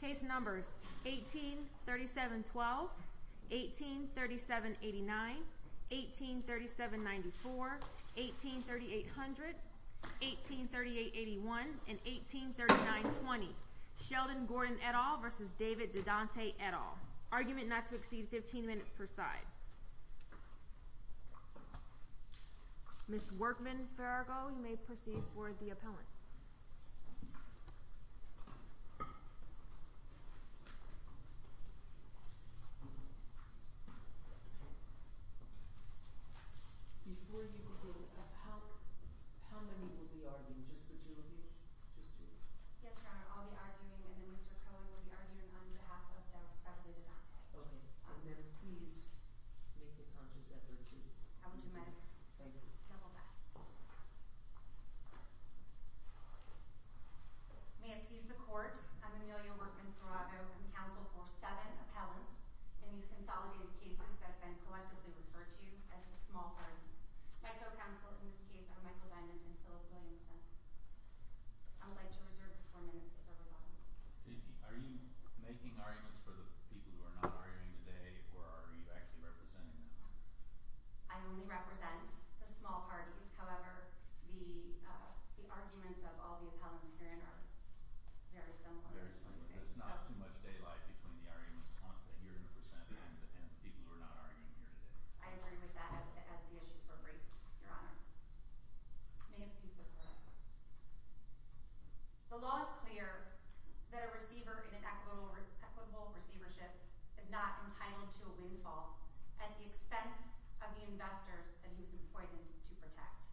Case numbers 1837-12, 1837-89, 1837-94, 1838-00, 1838-81, and 1839-20. Sheldon Gordon et al. v. David Dadante et al. Argument not to exceed 15 minutes per side. Ms. Workman-Farago, you may proceed for the appellant. Before you begin, how many will be arguing? Just the two of you? Yes, Your Honor, I'll be arguing, and then Mr. Cohen will be arguing on behalf of David Dadante. Okay. And then please make a conscious effort to… I will do my… Thank you. …best. May it please the Court, I'm Amelia Workman-Farago. I'm counsel for seven appellants in these consolidated cases that have been collectively referred to as the small parties. My co-counsel in this case are Michael Diamond and Philip Williamson. I would like to reserve the four minutes for rebuttal. Are you making arguments for the people who are not arguing today, or are you actually representing them? I only represent the small parties. However, the arguments of all the appellants herein are very similar. Very similar. There's not too much daylight between the arguments, and you're representing the people who are not arguing here today. I agree with that, as the issues were briefed, Your Honor. May it please the Court. The law is clear that a receiver in an equitable receivership is not entitled to a windfall at the expense of the investors that he was appointed to protect.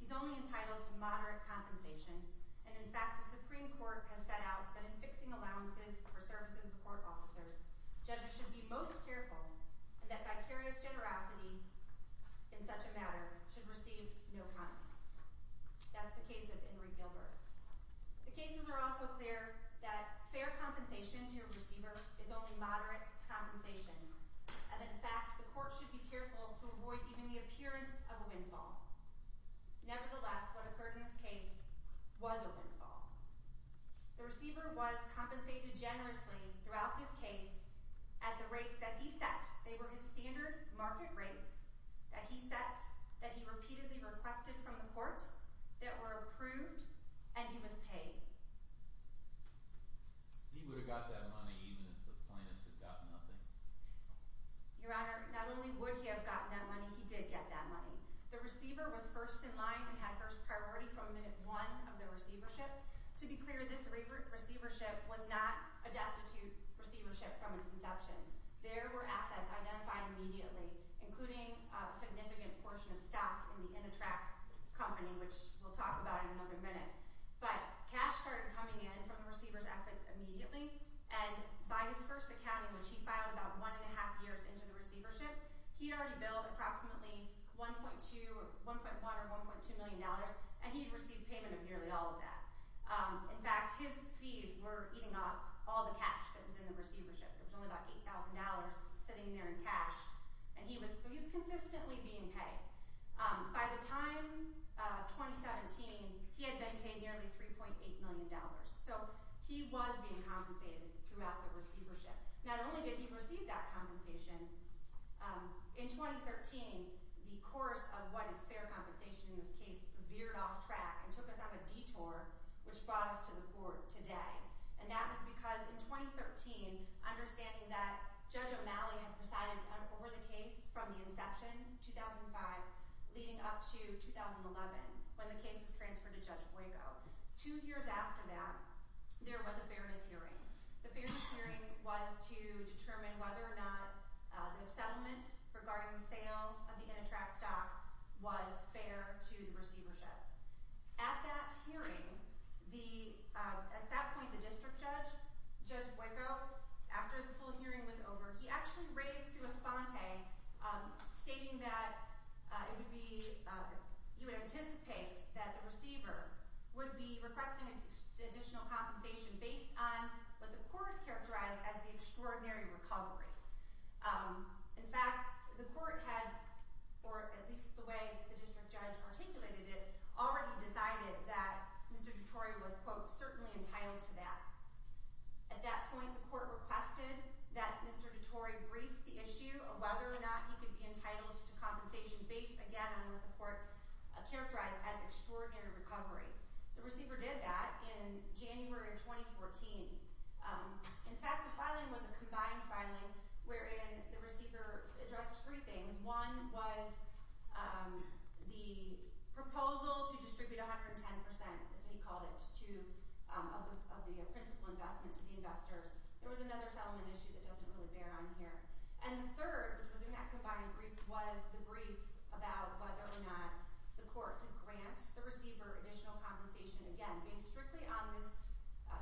He's only entitled to moderate compensation. And, in fact, the Supreme Court has set out that in fixing allowances for services to court officers, judges should be most careful that vicarious generosity in such a matter should receive no compensation. That's the case of Ingrid Gilbert. The cases are also clear that fair compensation to a receiver is only moderate compensation. And, in fact, the Court should be careful to avoid even the appearance of a windfall. Nevertheless, what occurred in this case was a windfall. The receiver was compensated generously throughout this case at the rates that he set. And he was paid. He would have got that money even if the plaintiffs had gotten nothing. Your Honor, not only would he have gotten that money, he did get that money. The receiver was first in line and had first priority from minute one of the receivership. To be clear, this receivership was not a destitute receivership from its inception. There were assets identified immediately, including a significant portion of stock in the Intratrac company, which we'll talk about in another minute. But cash started coming in from the receivers' afflicts immediately. And by his first accounting, which he filed about one and a half years into the receivership, he had already billed approximately $1.1 or $1.2 million, and he had received payment of nearly all of that. In fact, his fees were eating up all the cash that was in the receivership. There was only about $8,000 sitting there in cash. So he was consistently being paid. By the time 2017, he had been paid nearly $3.8 million. So he was being compensated throughout the receivership. Not only did he receive that compensation, in 2013, the course of what is fair compensation in this case veered off track and took us on a detour, which brought us to the court today. And that was because in 2013, understanding that Judge O'Malley had presided over the case from the inception, 2005, leading up to 2011, when the case was transferred to Judge Boyko. Two years after that, there was a fairness hearing. The fairness hearing was to determine whether or not the settlement regarding the sale of the Intratrac stock was fair to the receivership. At that hearing, at that point, the district judge, Judge Boyko, after the full hearing was over, he actually raised sua sponte, stating that it would be – he would anticipate that the receiver would be requesting additional compensation based on what the court characterized as the extraordinary recovery. In fact, the court had, or at least the way the district judge articulated it, already decided that Mr. DeTore was, quote, certainly entitled to that. At that point, the court requested that Mr. DeTore brief the issue of whether or not he could be entitled to compensation based, again, on what the court characterized as extraordinary recovery. The receiver did that in January of 2014. In fact, the filing was a combined filing wherein the receiver addressed three things. One was the proposal to distribute 110 percent, as he called it, to – of the principal investment to the investors. There was another settlement issue that doesn't really bear on here. And the third, which was in that combined brief, was the brief about whether or not the court could grant the receiver additional compensation, again, based strictly on this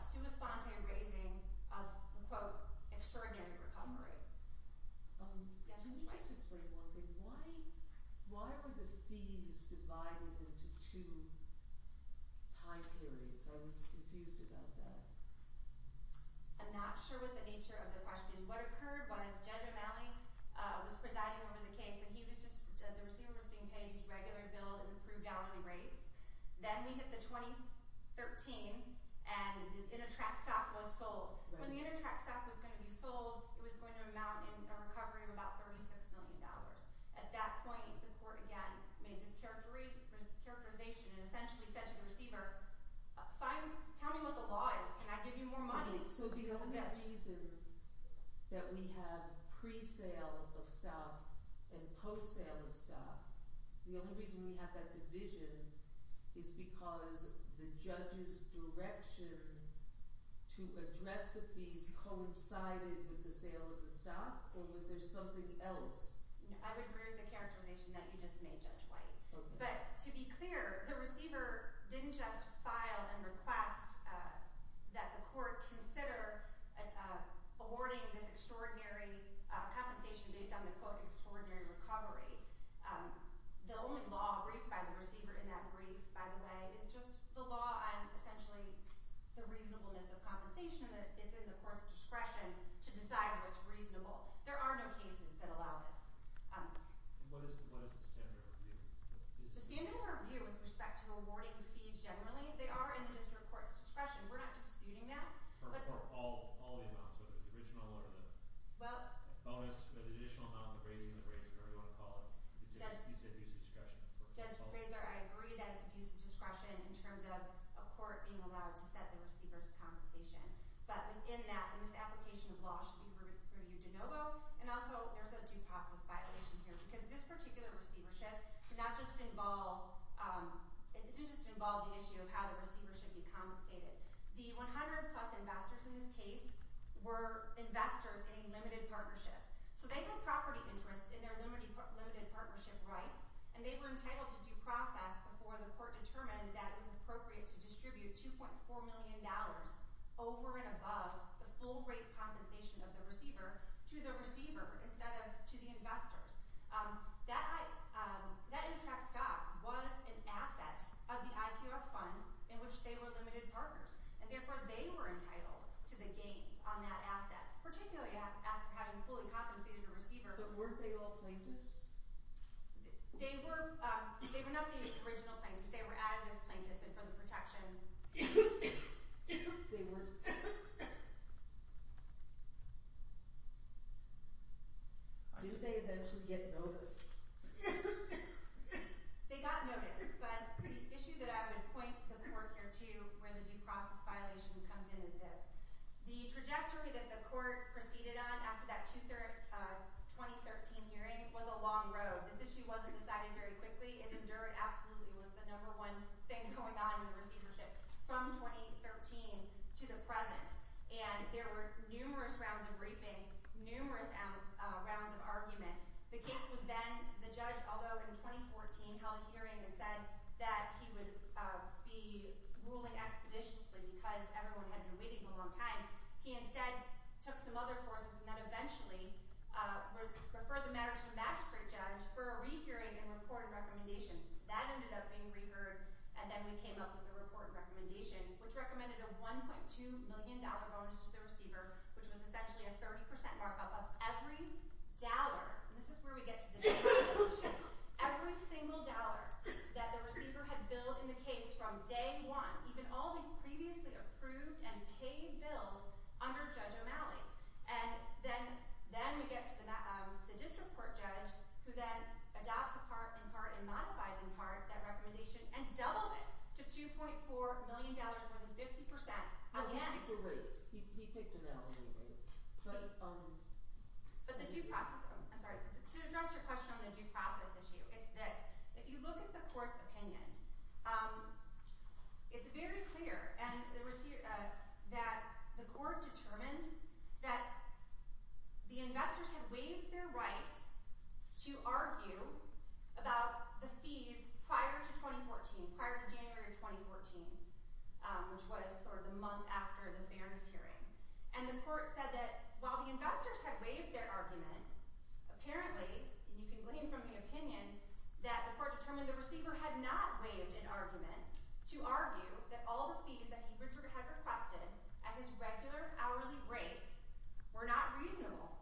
sua sponte raising of the, quote, extraordinary recovery. Yes? Can you just explain one thing? Why were the fees divided into two time periods? I was confused about that. I'm not sure what the nature of the question is. What occurred was Judge O'Malley was presiding over the case, and he was just – the receiver was being paid his regular bill and approved out on the rates. Then we hit the 2013, and the InterTrack stock was sold. When the InterTrack stock was going to be sold, it was going to amount in a recovery of about $36 million. At that point, the court, again, made this characterization and essentially said to the receiver, tell me what the law is. Can I give you more money? So the only reason that we have pre-sale of stock and post-sale of stock, the only reason we have that division is because the judge's direction to address the fees coincided with the sale of the stock, or was there something else? I would agree with the characterization that you just made, Judge White. But to be clear, the receiver didn't just file and request that the court consider awarding this extraordinary compensation based on the quote, extraordinary recovery. The only law briefed by the receiver in that brief, by the way, is just the law on essentially the reasonableness of compensation that is in the court's discretion to decide what's reasonable. There are no cases that allow this. What is the standard of review? The standard of review with respect to awarding fees generally, they are in the district court's discretion. We're not disputing that. For all the amounts, whether it's the original or the bonus, the additional amount, the raising of the rates, whatever you want to call it. It's abuse of discretion. Judge Prather, I agree that it's abuse of discretion in terms of a court being allowed to set the receiver's compensation. But in that, in this application of law, it should be reviewed de novo. And also, there's a due process violation here because this particular receivership did not just involve – it did just involve the issue of how the receiver should be compensated. The 100-plus investors in this case were investors in a limited partnership. So they had property interests in their limited partnership rights, and they were entitled to due process before the court determined that it was appropriate to distribute $2.4 million over and above the full rate compensation of the receiver to the receiver instead of to the investors. That interest stock was an asset of the IQF fund in which they were limited partners, and therefore they were entitled to the gains on that asset, particularly after having fully compensated the receiver. But weren't they all plaintiffs? They were – they were not the original plaintiffs. They were added as plaintiffs, and for the protection – They were. Do they eventually get notice? They got notice, but the issue that I would point the court here to where the due process violation comes in is this. The trajectory that the court proceeded on after that 2013 hearing was a long road. This issue wasn't decided very quickly. It endured absolutely. It was the number one thing going on in the receivership from 2013 to the present, and there were numerous rounds of briefing, numerous rounds of argument. The case was then – the judge, although in 2014 held a hearing and said that he would be ruling expeditiously because everyone had been waiting a long time, he instead took some other courses and then eventually referred the matter to the magistrate judge for a rehearing and report and recommendation. That ended up being reheard, and then we came up with a report and recommendation, which recommended a $1.2 million bonus to the receiver, which was essentially a 30 percent markup of every dollar – under Judge O'Malley. And then we get to the district court judge, who then adopts in part and modifies in part that recommendation and doubles it to $2.4 million, more than 50 percent again. He picked a route. He picked another route. But the due process – I'm sorry. To address your question on the due process issue, it's this. If you look at the court's opinion, it's very clear that the court determined that the investors had waived their right to argue about the fees prior to 2014, prior to January of 2014, which was sort of the month after the fairness hearing. And the court said that while the investors had waived their argument, apparently – and you can glean from the opinion – that the court determined the receiver had not waived an argument to argue that all the fees that he had requested at his regular hourly rates were not reasonable.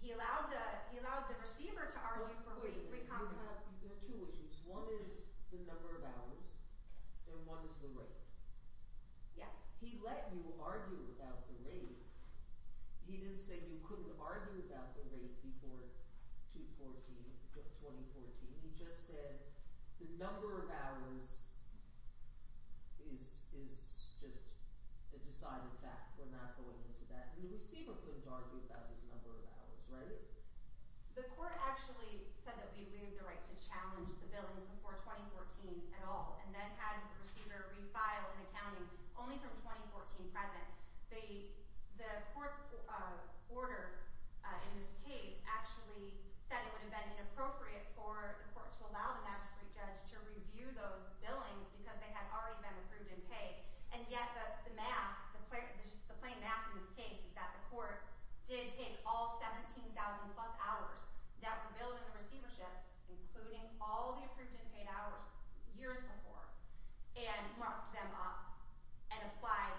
He allowed the receiver to argue for free conference. There are two issues. One is the number of hours, and one is the rate. Yes. He let you argue about the rate. He didn't say you couldn't argue about the rate before 2014. He just said the number of hours is just a decided fact. We're not going into that. The receiver couldn't argue about his number of hours, right? The court actually said that we waived the right to challenge the billings before 2014 at all and then had the receiver refile an accounting only from 2014 present. The court's order in this case actually said it would have been inappropriate for the court to allow the magistrate judge to review those billings because they had already been approved in pay. And yet the math – the plain math in this case is that the court did take all 17,000-plus hours that were billed in the receivership, including all the approved and paid hours years before, and marked them up and applied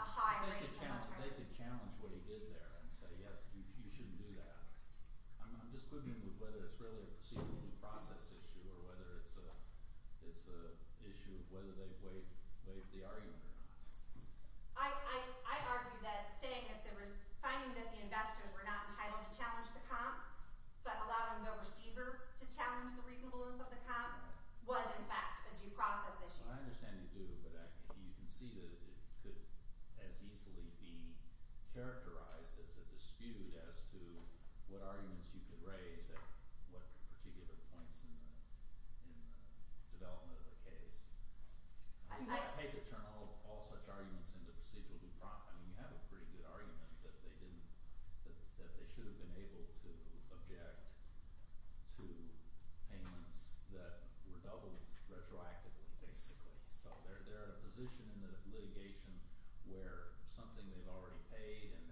a high rate of commentary. They could challenge what he did there and say, yes, you shouldn't do that. I'm just quibbling with whether it's really a proceedable due process issue or whether it's an issue of whether they waived the argument or not. I argue that saying that the – finding that the investors were not entitled to challenge the comp but allowing the receiver to challenge the reasonableness of the comp was, in fact, a due process issue. So I understand you do, but you can see that it could as easily be characterized as a dispute as to what arguments you could raise at what particular points in the development of the case. I hate to turn all such arguments into proceedable due process. I mean you have a pretty good argument that they didn't – that they should have been able to object to payments that were doubled retroactively basically. So they're in a position in the litigation where something they've already paid and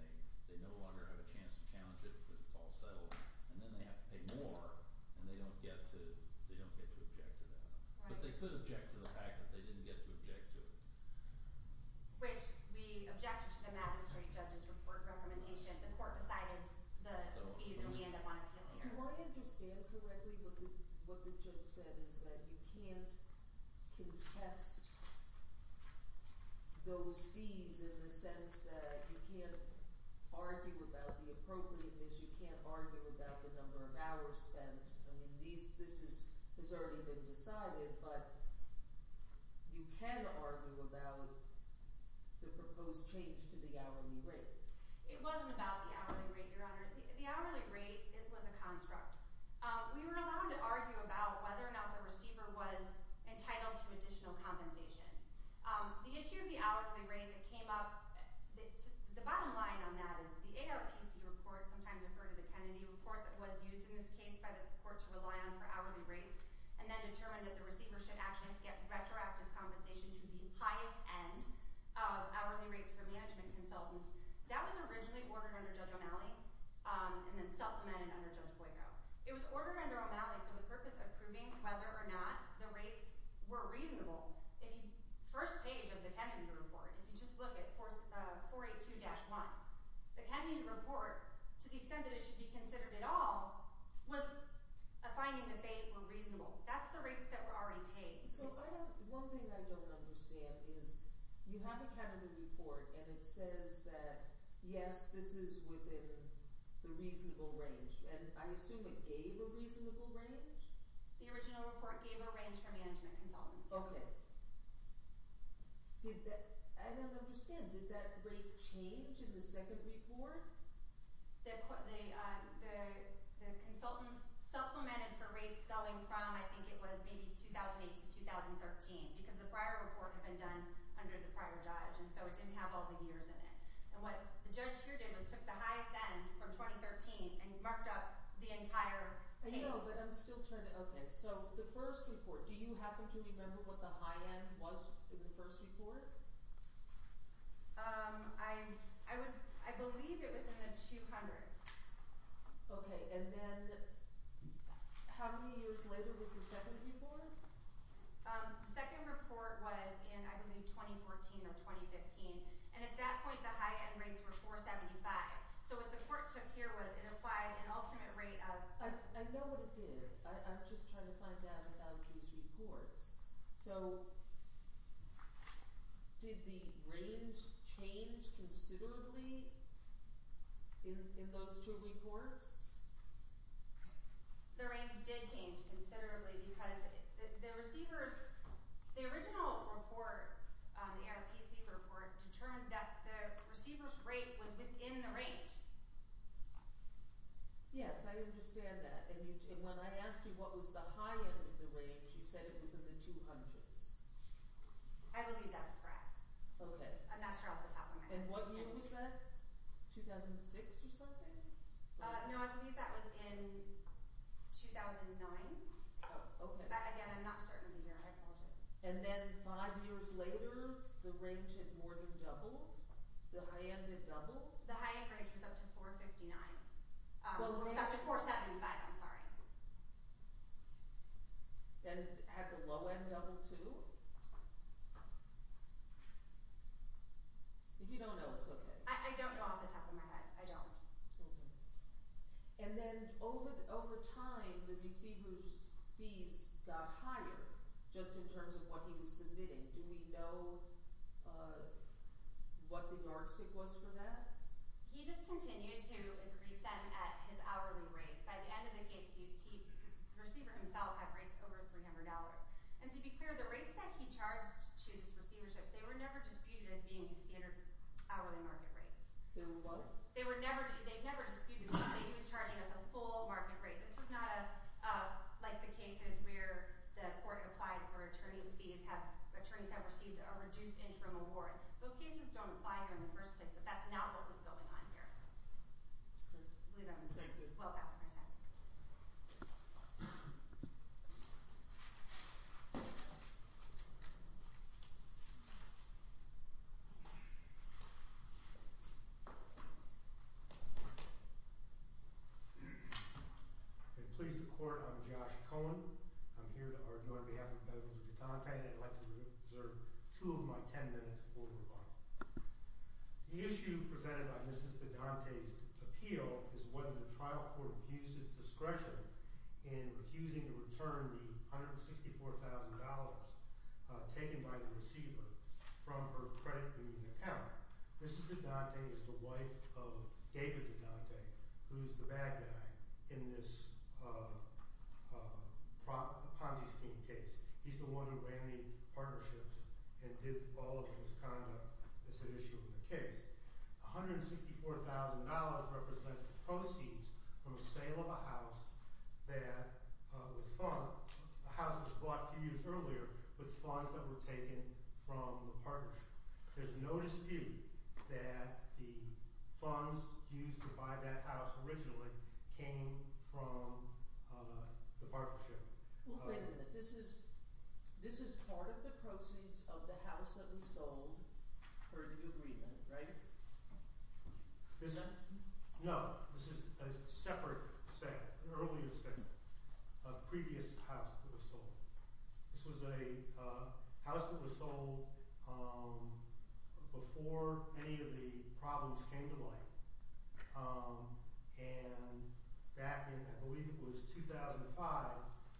they no longer have a chance to challenge it because it's all settled. And then they have to pay more and they don't get to object to that. But they could object to the fact that they didn't get to object to it. Which we objected to the magistrate judge's report recommendation. The court decided the fees would be in the monopoly area. Do I understand correctly what the judge said is that you can't contest those fees in the sense that you can't argue about the appropriateness. You can't argue about the number of hours spent. I mean this has already been decided, but you can argue about the proposed change to the hourly rate. It wasn't about the hourly rate, Your Honor. The hourly rate was a construct. We were allowed to argue about whether or not the receiver was entitled to additional compensation. The issue of the hourly rate that came up, the bottom line on that is the ARPC report, sometimes referred to the Kennedy report, that was used in this case by the court to rely on for hourly rates and then determined that the receiver should actually get retroactive compensation to the highest end of hourly rates for management consultants. That was originally ordered under Judge O'Malley and then supplemented under Judge Boyko. It was ordered under O'Malley for the purpose of proving whether or not the rates were reasonable. The first page of the Kennedy report, if you just look at 482-1, the Kennedy report, to the extent that it should be considered at all, was a finding that they were reasonable. That's the rates that were already paid. So one thing I don't understand is you have a Kennedy report and it says that, yes, this is within the reasonable range, and I assume it gave a reasonable range? The original report gave a range for management consultants. Okay. I don't understand. Did that rate change in the second report? The consultants supplemented for rates going from, I think it was maybe 2008 to 2013 because the prior report had been done under the prior judge, and so it didn't have all the years in it. And what the judge here did was took the highest end from 2013 and marked up the entire case. I know, but I'm still trying to – okay. So the first report, do you happen to remember what the high end was in the first report? I believe it was in the 200. Okay. And then how many years later was the second report? The second report was in, I believe, 2014 or 2015, and at that point the high end rates were 475. So what the court took here was it applied an ultimate rate of – I know what it did. I'm just trying to find out about these reports. So did the range change considerably in those two reports? The range did change considerably because the receivers – the original report, the RFPC report, determined that the receiver's rate was within the range. Yes, I understand that. And when I asked you what was the high end of the range, you said it was in the 200s. I believe that's correct. Okay. I'm not sure off the top of my head. And what year was that? 2006 or something? No, I believe that was in 2009. Oh, okay. Again, I'm not certain of the year. I apologize. And then five years later the range had more than doubled? The high end had doubled? The high end range was up to 459 – up to 475, I'm sorry. And had the low end doubled too? If you don't know, it's okay. I don't know off the top of my head. I don't. Okay. And then over time the receiver's fees got higher just in terms of what he was submitting. Do we know what the yardstick was for that? He just continued to increase them at his hourly rates. By the end of the case, the receiver himself had rates over $300. And to be clear, the rates that he charged to his receivership, they were never disputed as being standard hourly market rates. They were what? They were never – they never disputed the fact that he was charging us a full market rate. This was not like the cases where the court applied where attorneys' fees have – attorneys have received a reduced interim award. Those cases don't apply here in the first place, but that's not what was going on here. Okay. I believe that was it. Thank you. Well, that's my time. If it pleases the court, I'm Josh Cohen. I'm here on behalf of the Federal District of Dodd-Dante, and I'd like to reserve two of my ten minutes for rebuttal. The issue presented by Mrs. Dodd-Dante's appeal is whether the trial court abused its discretion in refusing to return the $164,000 taken by the receiver from her credit reading account. Mrs. Dodd-Dante is the wife of David Dodd-Dante, who's the bad guy in this Ponzi scheme case. He's the one who ran the partnerships and did all of his conduct as an issue in the case. $164,000 represents proceeds from a sale of a house that was – a house that was bought a few years earlier with funds that were taken from the partnership. There's no dispute that the funds used to buy that house originally came from the partnership. Well, wait a minute. This is part of the proceeds of the house that was sold for the agreement, right? No. This is a separate set, an earlier set of previous houses that were sold. This was a house that was sold before any of the problems came to light. And back in – I believe it was 2005,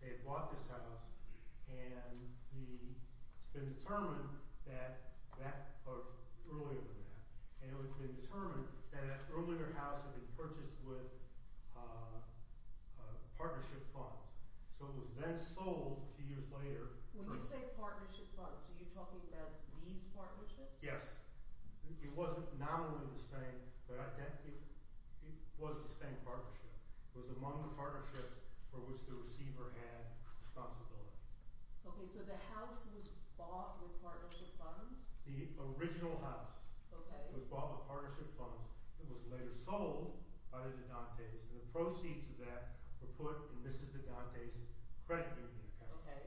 they had bought this house, and the – it's been determined that that – or earlier than that. And it had been determined that that earlier house had been purchased with partnership funds. So it was then sold a few years later. When you say partnership funds, are you talking about these partnerships? Yes. It wasn't nominally the same, but it was the same partnership. It was among the partnerships for which the receiver had responsibility. Okay. So the house was bought with partnership funds? The original house was bought with partnership funds. It was later sold by the Dodd-Dantes. And the proceeds of that were put in Mrs. Dodd-Dantes' credit union account. Okay.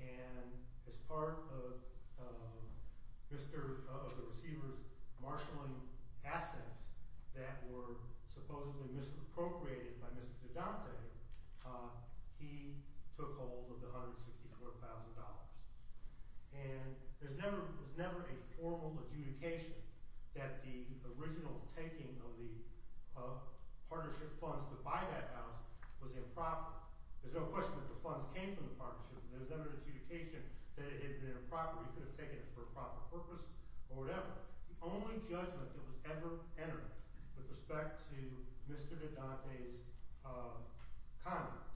And as part of Mr. – of the receiver's marshaling assets that were supposedly misappropriated by Mr. Dodd-Dante, he took hold of the $164,000. And there's never a formal adjudication that the original taking of the partnership funds to buy that house was improper. There's no question that the funds came from the partnership. There's never an adjudication that it had been improper. He could have taken it for a proper purpose or whatever. The only judgment that was ever entered with respect to Mr. Dodd-Dante's conduct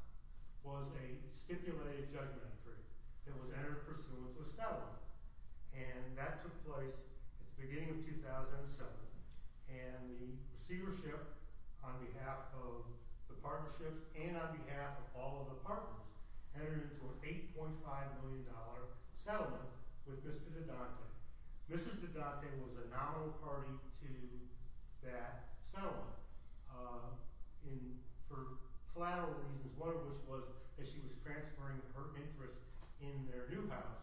was a stipulated judgment entry that was entered pursuant to a settlement. And that took place at the beginning of 2007. And the receivership on behalf of the partnerships and on behalf of all of the partners entered into an $8.5 million settlement with Mr. Dodd-Dante. Mrs. Dodd-Dante was a nominal party to that settlement. And for collateral reasons, one of which was that she was transferring her interest in their new house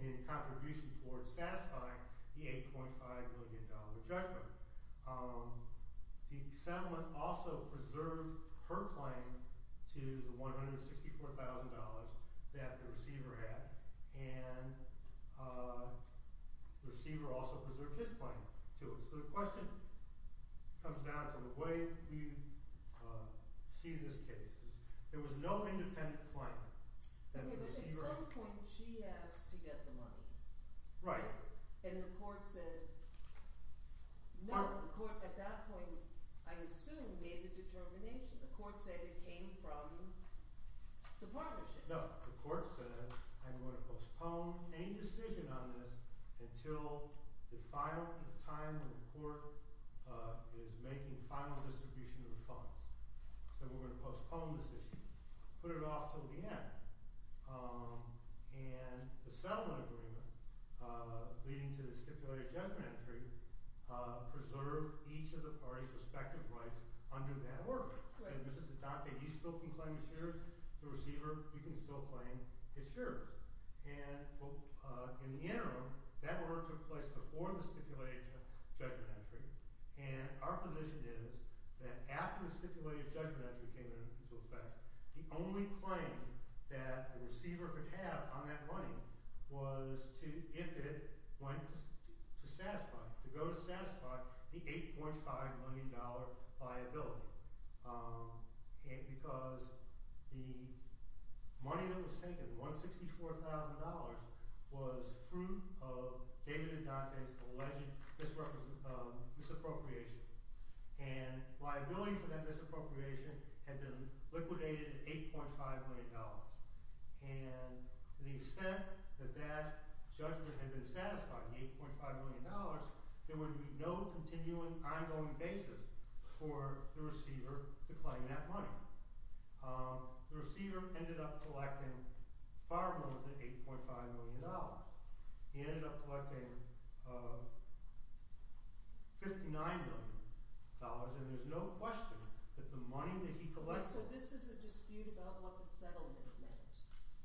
in contribution towards satisfying the $8.5 million judgment. The settlement also preserved her claim to the $164,000 that the receiver had. And the receiver also preserved his claim to it. So the question comes down to the way we see this case. There was no independent claim that the receiver – But at some point, she asked to get the money. Right. And the court said – no, the court at that point, I assume, made the determination. The court said it came from the partnership. No, the court said, I'm going to postpone any decision on this until the time the court is making final distribution of the funds. So we're going to postpone this issue. Put it off until the end. And the settlement agreement, leading to the stipulated judgment entry, preserved each of the parties' respective rights under that order. So this is the document. You still can claim the shares. The receiver, you can still claim his shares. And in the interim, that order took place before the stipulated judgment entry. And our position is that after the stipulated judgment entry came into effect, the only claim that the receiver could have on that money was if it went to satisfy – to go to satisfy the $8.5 million liability. Because the money that was taken, $164,000, was fruit of David and Dante's alleged misappropriation. And liability for that misappropriation had been liquidated at $8.5 million. And to the extent that that judgment had been satisfied, the $8.5 million, there would be no continuing, ongoing basis for the receiver to claim that money. The receiver ended up collecting far more than $8.5 million. He ended up collecting $59 million. And there's no question that the money that he collected – So this is a dispute about what the settlement meant.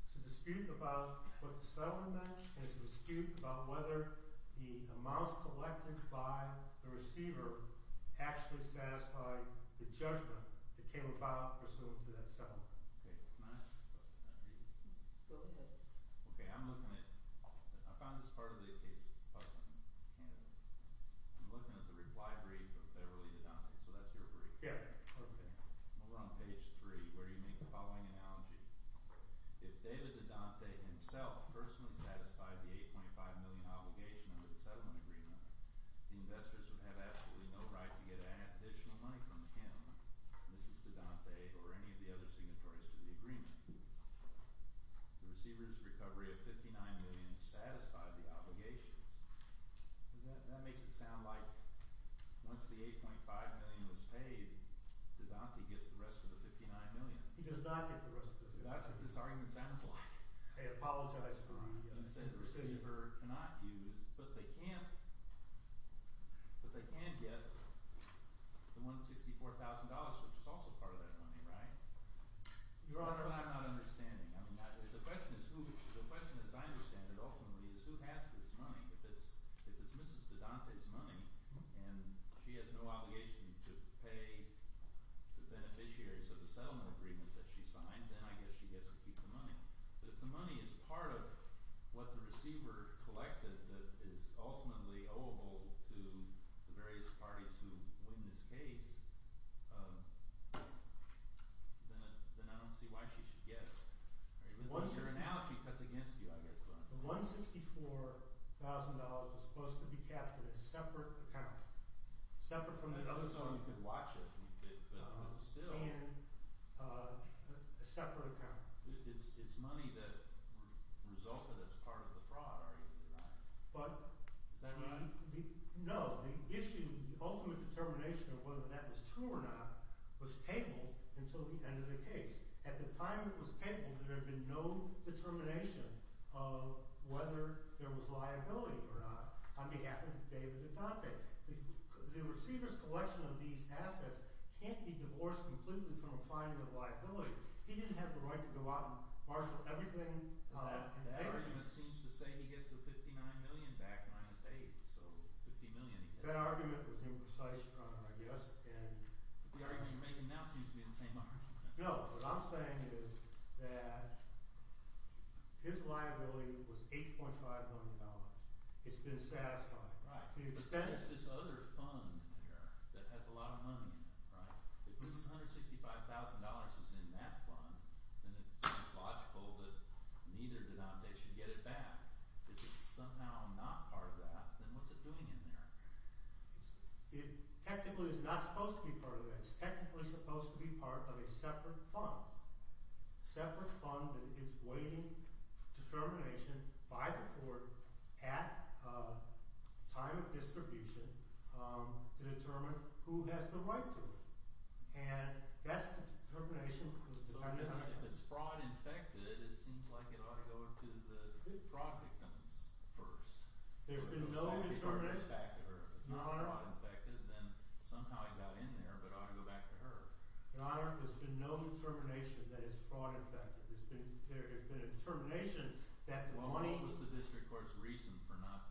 It's a dispute about what the settlement meant. It's a dispute about whether the amounts collected by the receiver actually satisfied the judgment that came about pursuant to that settlement. Okay. Can I ask a question? Go ahead. Okay. I'm looking at – I found this part of the case in Canada. I'm looking at the reply brief of Beverly and Dante. So that's your brief. Yeah. Okay. Over on page 3, where do you make the following analogy? If David de Dante himself personally satisfied the $8.5 million obligation under the settlement agreement, the investors would have absolutely no right to get additional money from him, Mrs. de Dante, or any of the other signatories to the agreement. The receiver's recovery of $59 million satisfied the obligations. That makes it sound like once the $8.5 million was paid, de Dante gets the rest of the $59 million. He does not get the rest of the $59 million. That's what this argument sounds like. I apologize, Your Honor. You said the receiver cannot use, but they can get the $164,000, which is also part of that money, right? Your Honor. That's what I'm not understanding. The question is who – the question, as I understand it, ultimately, is who has this money. If it's Mrs. de Dante's money and she has no obligation to pay the beneficiaries of the settlement agreement that she signed, then I guess she gets to keep the money. If the money is part of what the receiver collected that is ultimately oweable to the various parties who win this case, then I don't see why she should get it. If that's your analogy, that's against you, I guess, to be honest with you. The $164,000 was supposed to be kept in a separate account. Separate from the other – Just so we could watch it. But still – In a separate account. It's money that resulted as part of the fraud, are you denying? But – Is that money? No. The issue – the ultimate determination of whether that was true or not was tabled until the end of the case. At the time it was tabled, there had been no determination of whether there was liability or not on behalf of David de Dante. The receiver's collection of these assets can't be divorced completely from a finding of liability. He didn't have the right to go out and marshal everything. That argument seems to say he gets the $59 million back minus aid, so $50 million he gets. That argument was imprecise, I guess, and – The argument you're making now seems to be the same argument. No, what I'm saying is that his liability was $8.5 million. It's been satisfied. But there's this other fund there that has a lot of money in it, right? If this $165,000 is in that fund, then it seems logical that neither de Dante should get it back. If it's somehow not part of that, then what's it doing in there? It technically is not supposed to be part of that. It's technically supposed to be part of a separate fund. A separate fund that is waiting for determination by the court at time of distribution to determine who has the right to it. And that's the determination. If it's fraud-infected, it seems like it ought to go to the fraud victims first. There's been no determination. If it's not fraud-infected, then somehow it got in there, but it ought to go back to her. Your Honor, there's been no determination that it's fraud-infected. There has been a determination that the money— Well, what was the district court's reason for not—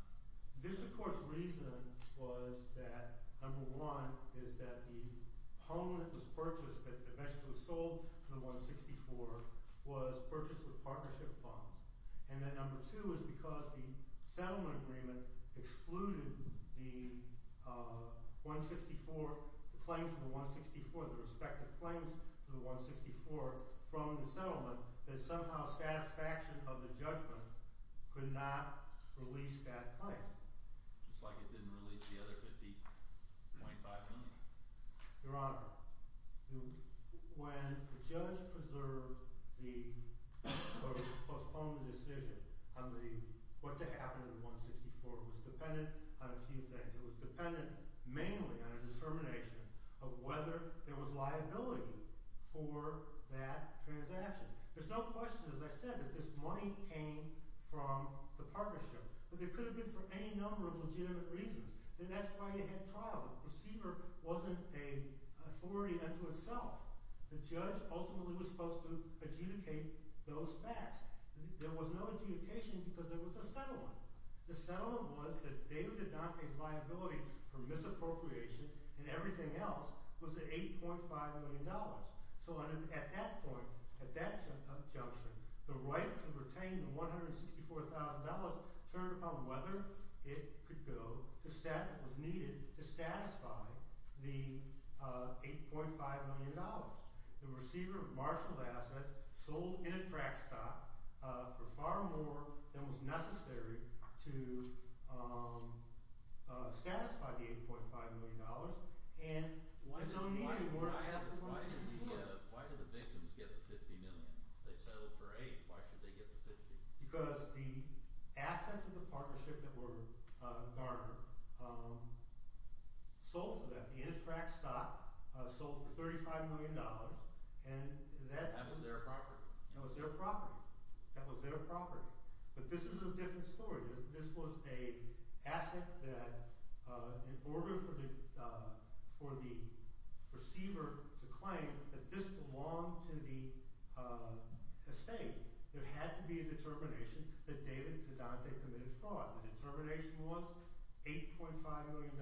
The district court's reason was that, number one, is that the home that was purchased, that eventually was sold to the 164, was purchased with partnership funds. And that, number two, is because the settlement agreement excluded the 164, the claim to the 164, the respective claims to the 164 from the settlement, that somehow satisfaction of the judgment could not release that claim. Just like it didn't release the other $50.5 million. Your Honor, when the judge preserved the—or postponed the decision on what to happen to the 164, it was dependent on a few things. It was dependent mainly on a determination of whether there was liability for that transaction. There's no question, as I said, that this money came from the partnership. But it could have been for any number of legitimate reasons. And that's why you had trial. The receiver wasn't an authority unto itself. The judge ultimately was supposed to adjudicate those facts. There was no adjudication because there was a settlement. The settlement was that David Adante's liability for misappropriation and everything else was the $8.5 million. So at that point, at that judgment, the right to retain the $164,000 turned upon whether it could go to set what was needed to satisfy the $8.5 million. The receiver marshaled assets, sold in a track stock for far more than was necessary to satisfy the $8.5 million. Why did the victims get the $50 million? They settled for $8. Why should they get the $50 million? Because the assets of the partnership that were garnered sold for that, the in a track stock, sold for $35 million. And that was their property. That was their property. That was their property. But this is a different story. This was an asset that in order for the receiver to claim that this belonged to the estate, there had to be a determination that David Adante committed fraud. The determination was $8.5 million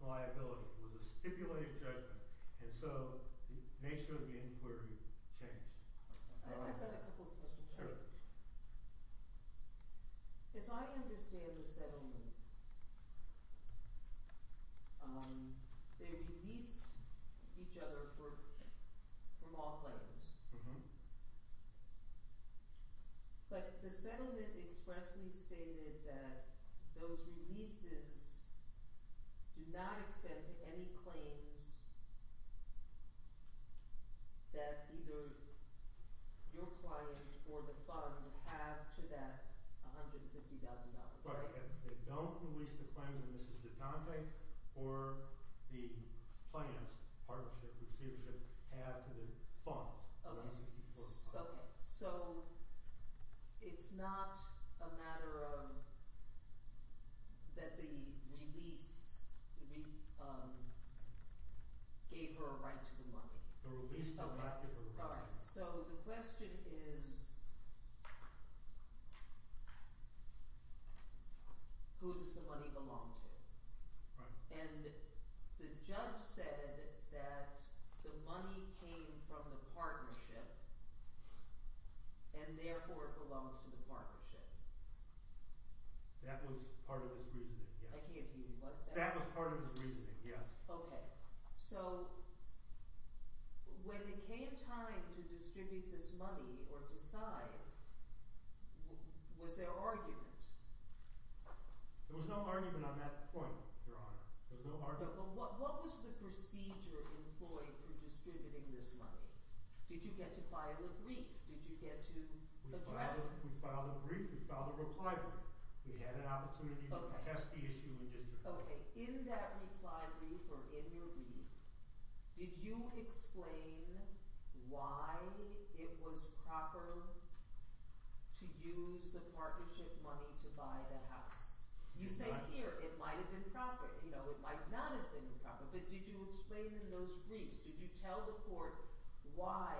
liability. It was a stipulated judgment. And so the nature of the inquiry changed. I've got a couple of questions. As I understand the settlement, they released each other from all claims. But the settlement expressly stated that those releases do not extend to any claims that either your client or the fund have to that $150,000 claim. That's correct. They don't release the claims of Mrs. Adante or the plaintiff's partnership, receivership, had to the funds. Okay. So it's not a matter of that the release gave her a right to the money. The release did not give her a right to the money. All right. So the question is, who does the money belong to? And the judge said that the money came from the partnership and therefore it belongs to the partnership. That was part of his reasoning, yes. I can't hear you. What? That was part of his reasoning, yes. Okay. So when it came time to distribute this money or decide, was there argument? There was no argument on that point, Your Honor. There was no argument. But what was the procedure employed for distributing this money? Did you get to file a brief? Did you get to address? We filed a brief. We filed a reply brief. We had an opportunity to contest the issue in district court. Okay. In that reply brief or in your brief, did you explain why it was proper to use the partnership money to buy the house? You say here it might have been proper. You know, it might not have been proper. But did you explain in those briefs, did you tell the court why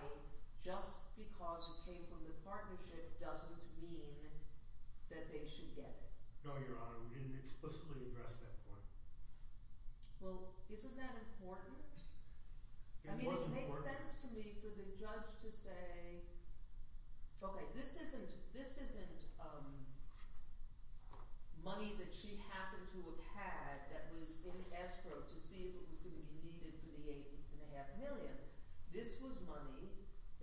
just because it came from the partnership doesn't mean that they should get it? No, Your Honor. We didn't explicitly address that point. Well, isn't that important? It was important. I mean, it makes sense to me for the judge to say, okay, this isn't money that she happened to have had that was in escrow to see if it was going to be needed for the $8.5 million. This was money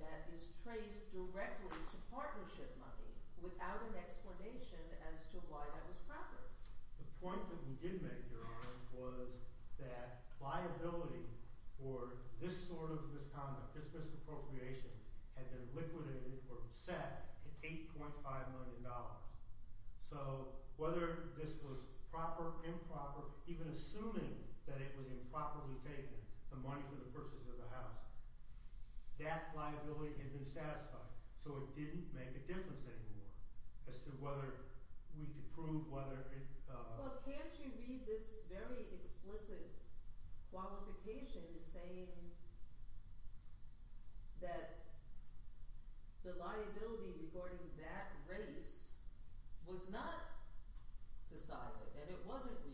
that is traced directly to partnership money without an explanation as to why that was proper. The point that we did make, Your Honor, was that liability for this sort of misconduct, this misappropriation had been liquidated or set at $8.5 million. So whether this was proper, improper, even assuming that it was improperly taken, the money for the purchase of the house, that liability had been satisfied. So it didn't make a difference anymore as to whether we could prove whether it – Well, can't you read this very explicit qualification saying that the liability regarding that race was not decided and it wasn't released?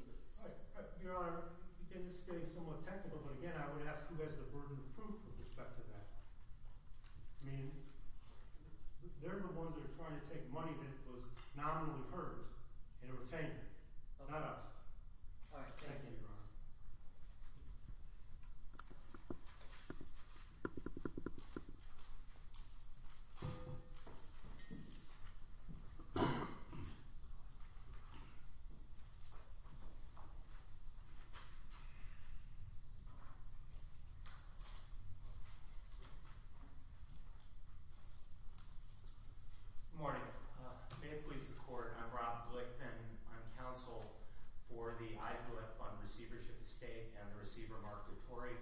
Your Honor, again, this is getting somewhat technical, but again, I would ask who has the burden of proof with respect to that. I mean, they're the ones that are trying to take money that was not only hers and it was taken, not us. All right. Thank you, Your Honor. Good morning. May it please the Court, I'm Rob Glickman. I'm counsel for the IVF Fund Receivership Estate and the Receiver Marketory.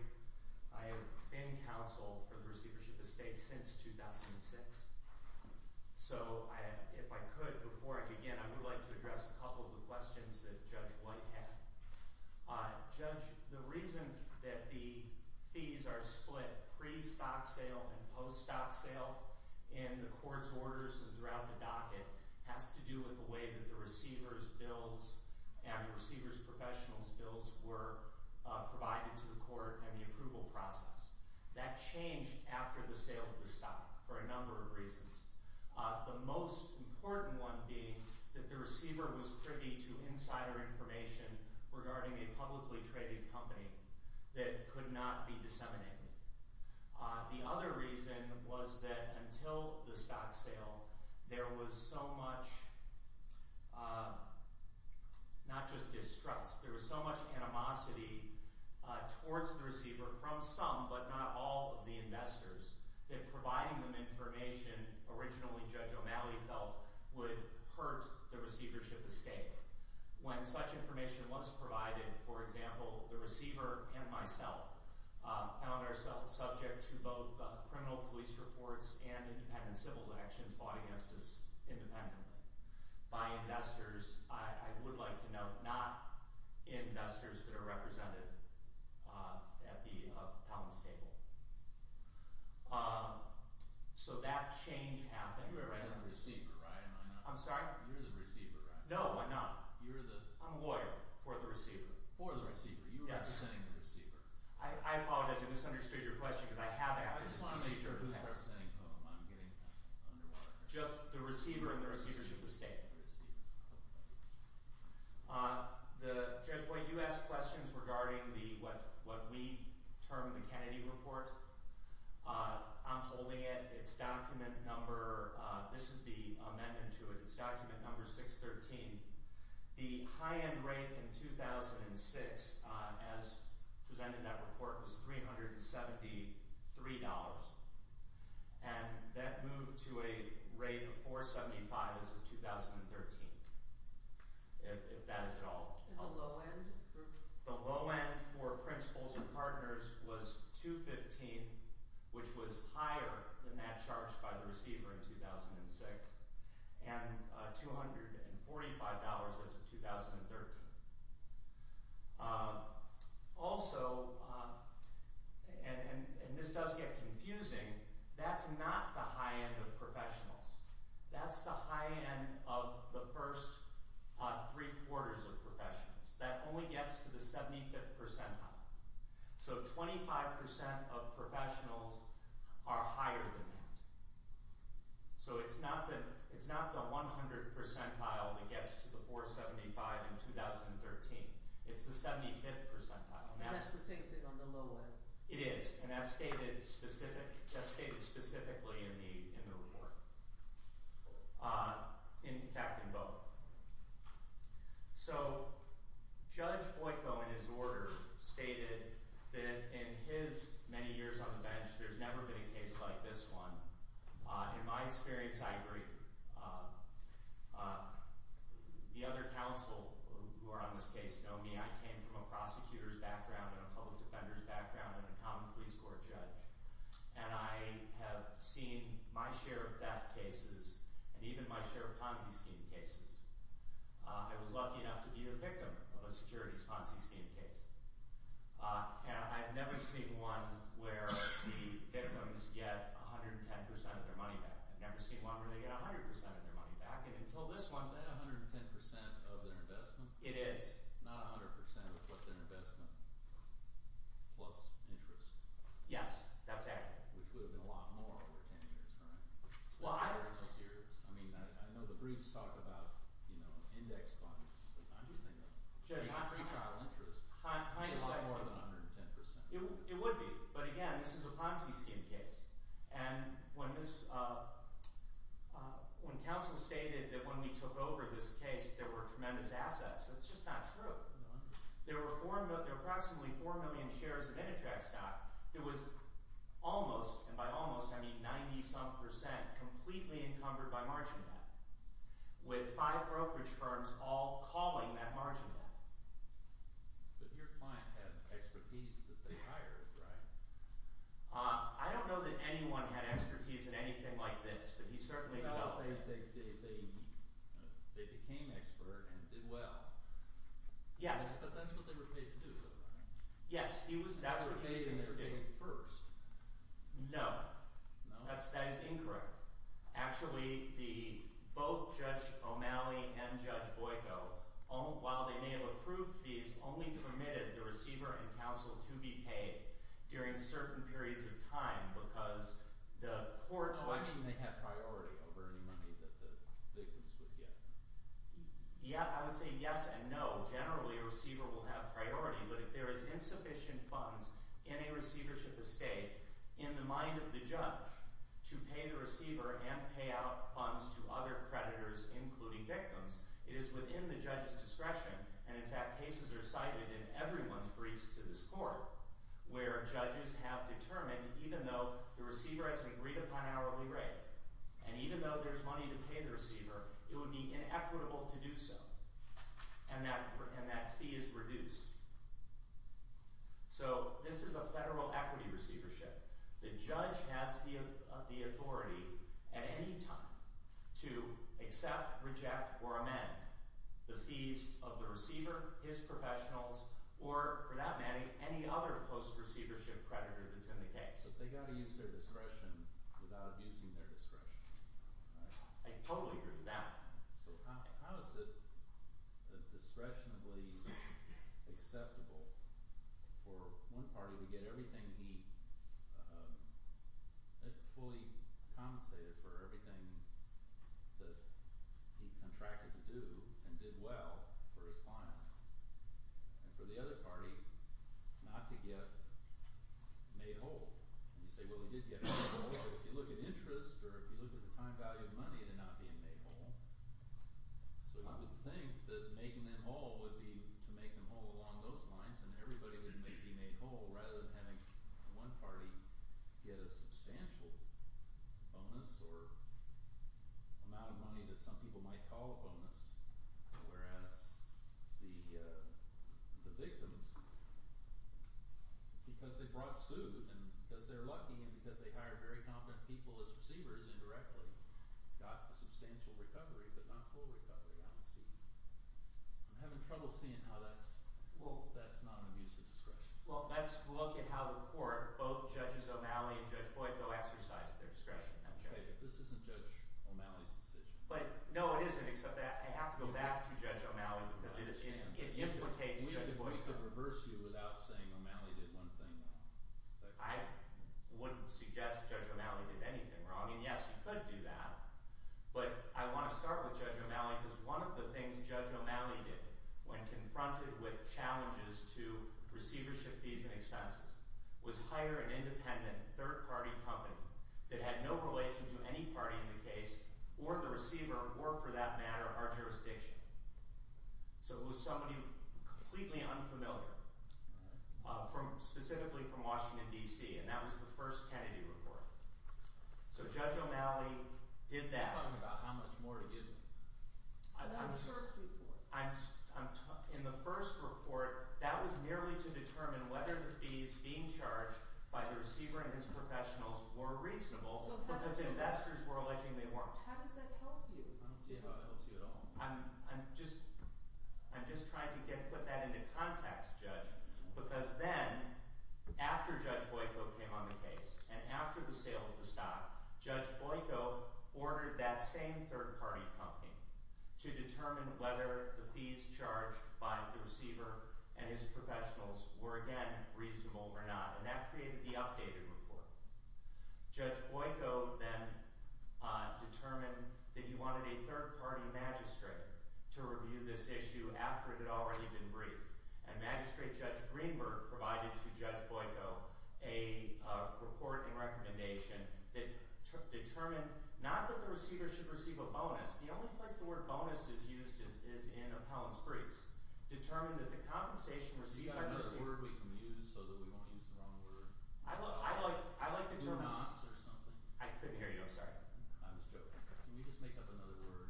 I have been counsel for the Receivership Estate since 2006. So if I could, before I begin, I would like to address a couple of the questions that Judge White had. Judge, the reason that the fees are split pre-stock sale and post-stock sale in the court's orders and throughout the docket has to do with the way that the receiver's bills and the receiver's professional's bills were provided to the court and the approval process. That changed after the sale of the stock for a number of reasons. The most important one being that the receiver was privy to insider information regarding a publicly traded company that could not be disseminated. The other reason was that until the stock sale, there was so much, not just distrust, there was so much animosity towards the receiver from some but not all of the investors that providing them information, originally Judge O'Malley felt, would hurt the receivership estate. When such information was provided, for example, the receiver and myself found ourselves subject to both criminal police reports and independent civil actions brought against us independently by investors, I would like to note, not investors that are represented at the accounts table. So that change happened. You're the receiver, right? I'm sorry? You're the receiver, right? No, I'm not. You're the? I'm a lawyer for the receiver. For the receiver? Yes. You're representing the receiver. I apologize, I misunderstood your question because I have asked. I just want to make sure who's representing whom. I'm getting under water. Just the receiver and the receivership estate. Receivership estate. Judge White, you asked questions regarding what we term the Kennedy report. I'm holding it. It's document number, this is the amendment to it. It's document number 613. The high-end rate in 2006, as presented in that report, was $373, and that moved to a rate of $475 as of 2013, if that is at all. And the low-end? The low-end for principals and partners was $215, which was higher than that charged by the receiver in 2006, and $245 as of 2013. Also, and this does get confusing, that's not the high-end of professionals. That's the high-end of the first three-quarters of professionals. That only gets to the 75th percentile. So 25% of professionals are higher than that. So it's not the 100th percentile that gets to the $475 in 2013. It's the 75th percentile. And that's the same thing on the low-end? It is, and that's stated specifically in the report. In fact, in both. So Judge Boyko, in his order, stated that in his many years on the bench, there's never been a case like this one. In my experience, I agree. The other counsel who are on this case know me. I came from a prosecutor's background and a public defender's background and a common police court judge. And I have seen my share of theft cases and even my share of Ponzi scheme cases. I was lucky enough to be the victim of a securities Ponzi scheme case. And I've never seen one where the victims get 110% of their money back. I've never seen one where they get 100% of their money back. Is that 110% of their investment? It is. Not 100% of what their investment plus interest? Yes. That's accurate. Which would have been a lot more over 10 years, correct? Well, I don't know. I mean, I know the briefs talk about, you know, index funds. I'm just thinking of free trial interest. Might be a lot more than 110%. It would be. But again, this is a Ponzi scheme case. And when this – when counsel stated that when we took over this case, there were tremendous assets, that's just not true. There were 4 – there were approximately 4 million shares of Intertrack stock. It was almost – and by almost, I mean 90-some percent completely encumbered by margin of that. With five brokerage firms all calling that margin of that. But your client had expertise that they hired, right? I don't know that anyone had expertise in anything like this, but he certainly did well. They became expert and did well. Yes. But that's what they were paid to do. Yes, he was – that's what he was paid to do. They were paid, and they were paid first. No. No? That is incorrect. Actually, the – both Judge O'Malley and Judge Boyko, while they may have approved fees, only permitted the receiver and counsel to be paid during certain periods of time because the court – Why didn't they have priority over any money that the victims would get? Yeah. I would say yes and no. Generally, a receiver will have priority, but if there is insufficient funds in a receivership estate in the mind of the judge to pay the receiver and pay out funds to other creditors, including victims, it is within the judge's discretion. And in fact, cases are cited in everyone's briefs to this court where judges have determined even though the receiver has an agreed-upon hourly rate and even though there's money to pay the receiver, it would be inequitable to do so, and that fee is reduced. So this is a federal equity receivership. The judge has the authority at any time to accept, reject, or amend the fees of the receiver, his professionals, or for that matter, any other post-receivership creditor that's in the case. But they've got to use their discretion without abusing their discretion, right? I totally agree with that. So how is it discretionably acceptable for one party to get everything he – fully compensated for everything that he contracted to do and did well for his client and for the other party not to get made whole? You say, well, he did get made whole, but if you look at interest or if you look at the time value of money, they're not being made whole. So I would think that making them whole would be to make them whole along those lines and everybody would be made whole rather than having one party get a substantial bonus or amount of money that some people might call a bonus. Whereas the victims, because they brought suit and because they're lucky and because they hired very competent people as receivers indirectly, got substantial recovery but not full recovery, I would see. I'm having trouble seeing how that's – well, that's not an abusive discretion. Well, let's look at how the court, both Judges O'Malley and Judge Boyd, go exercise their discretion. Okay, this isn't Judge O'Malley's decision. But no, it isn't except that I have to go back to Judge O'Malley because it implicates Judge Boyd. We could reverse you without saying O'Malley did one thing wrong. I wouldn't suggest Judge O'Malley did anything wrong, and yes, he could do that. But I want to start with Judge O'Malley because one of the things Judge O'Malley did when confronted with challenges to receivership fees and expenses was hire an independent, third-party company that had no relation to any party in the case or the receiver or, for that matter, our jurisdiction. So it was somebody completely unfamiliar, specifically from Washington, D.C., and that was the first Kennedy report. So Judge O'Malley did that. You're talking about how much more to give. That was the first report. In the first report, that was merely to determine whether the fees being charged by the receiver and his professionals were reasonable because investors were alleging they weren't. How does that help you? I don't see how it helps you at all. I'm just trying to put that into context, Judge, because then after Judge Boyko came on the case and after the sale of the stock, Judge Boyko ordered that same third-party company to determine whether the fees charged by the receiver and his professionals were, again, reasonable or not, and that created the updated report. Judge Boyko then determined that he wanted a third-party magistrate to review this issue after it had already been briefed. And Magistrate Judge Greenberg provided to Judge Boyko a report and recommendation that determined not that the receiver should receive a bonus. The only place the word bonus is used is in appellant's briefs. Determined that the compensation received by the receiver… Do you have another word we can use so that we won't use the wrong word? I like the term… Bonus or something? I couldn't hear you. I'm sorry. I'm just joking. Can we just make up another word?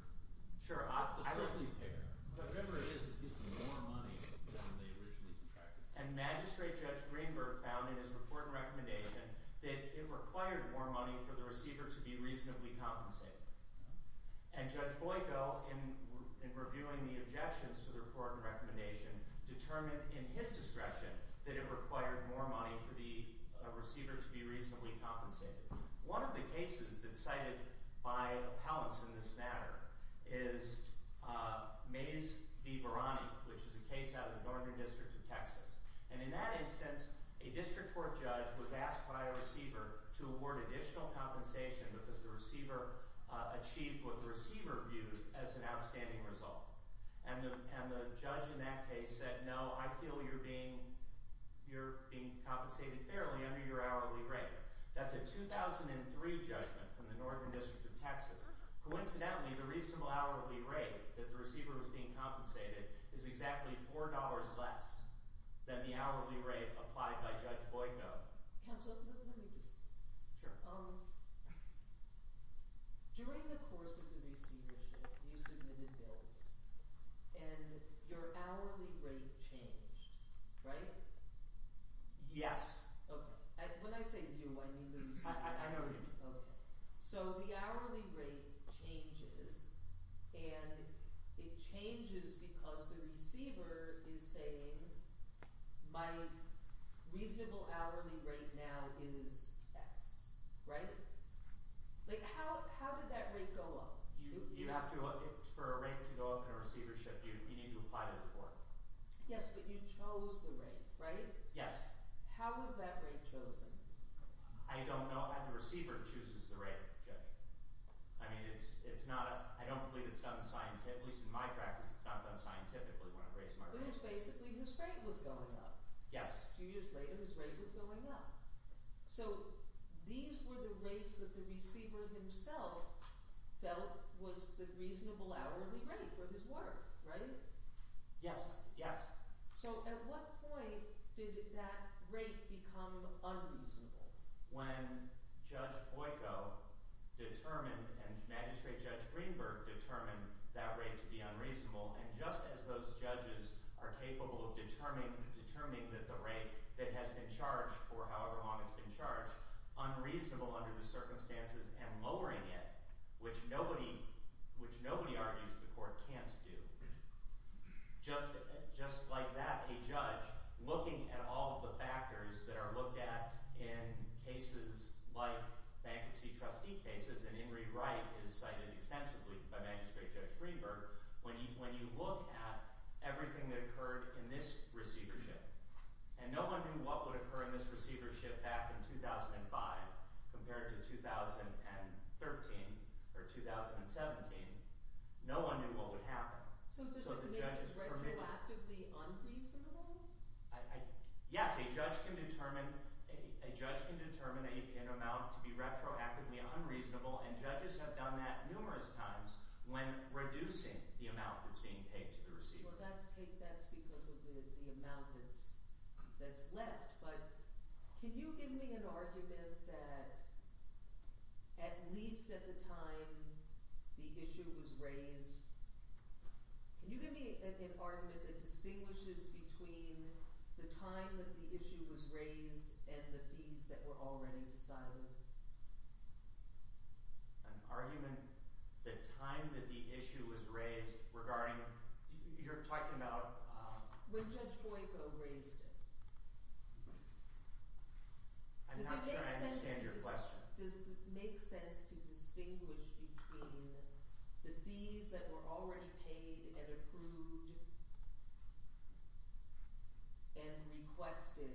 Sure. It's a prickly pear, but remember it is – it gives you more money than they originally contracted. And Magistrate Judge Greenberg found in his report and recommendation that it required more money for the receiver to be reasonably compensated. And Judge Boyko, in reviewing the objections to the report and recommendation, determined in his discretion that it required more money for the receiver to be reasonably compensated. One of the cases that's cited by appellants in this matter is Mays v. Varani, which is a case out of the Northern District of Texas. And in that instance, a district court judge was asked by a receiver to award additional compensation because the receiver achieved what the receiver viewed as an outstanding result. And the judge in that case said, no, I feel you're being compensated fairly under your hourly rate. That's a 2003 judgment from the Northern District of Texas. Coincidentally, the reasonable hourly rate that the receiver was being compensated is exactly $4 less than the hourly rate applied by Judge Boyko. Counsel, let me just – during the course of the receivership, you submitted bills, and your hourly rate changed, right? Yes. When I say you, I mean the receiver. I know you. Okay. So the hourly rate changes, and it changes because the receiver is saying my reasonable hourly rate now is X, right? Like, how did that rate go up? You have to – for a rate to go up in a receivership, you need to apply to the court. Yes, but you chose the rate, right? Yes. How was that rate chosen? I don't know. The receiver chooses the rate, Judge. I mean it's not – I don't believe it's done scientifically. At least in my practice, it's not done scientifically when I raise my rates. It was basically whose rate was going up. Yes. A few years later, whose rate was going up. So these were the rates that the receiver himself felt was the reasonable hourly rate for his work, right? Yes. Yes. So at what point did that rate become unreasonable? When Judge Boyko determined and Magistrate Judge Greenberg determined that rate to be unreasonable, and just as those judges are capable of determining that the rate that has been charged for however long it's been charged, unreasonable under the circumstances and lowering it, which nobody argues the court can't do. Just like that, a judge looking at all of the factors that are looked at in cases like bankruptcy trustee cases, and Ingrid Wright is cited extensively by Magistrate Judge Greenberg, when you look at everything that occurred in this receivership, and no one knew what would occur in this receivership back in 2005 compared to 2013 or 2017. No one knew what would happen. So does it make it retroactively unreasonable? Yes. A judge can determine an amount to be retroactively unreasonable, and judges have done that numerous times when reducing the amount that's being paid to the receiver. Well, that's because of the amount that's left. But can you give me an argument that at least at the time the issue was raised – can you give me an argument that distinguishes between the time that the issue was raised and the fees that were already decided? An argument the time that the issue was raised regarding – you're talking about – when Judge Boyko raised it. I'm not sure I understand your question. Does it make sense to distinguish between the fees that were already paid and approved and requested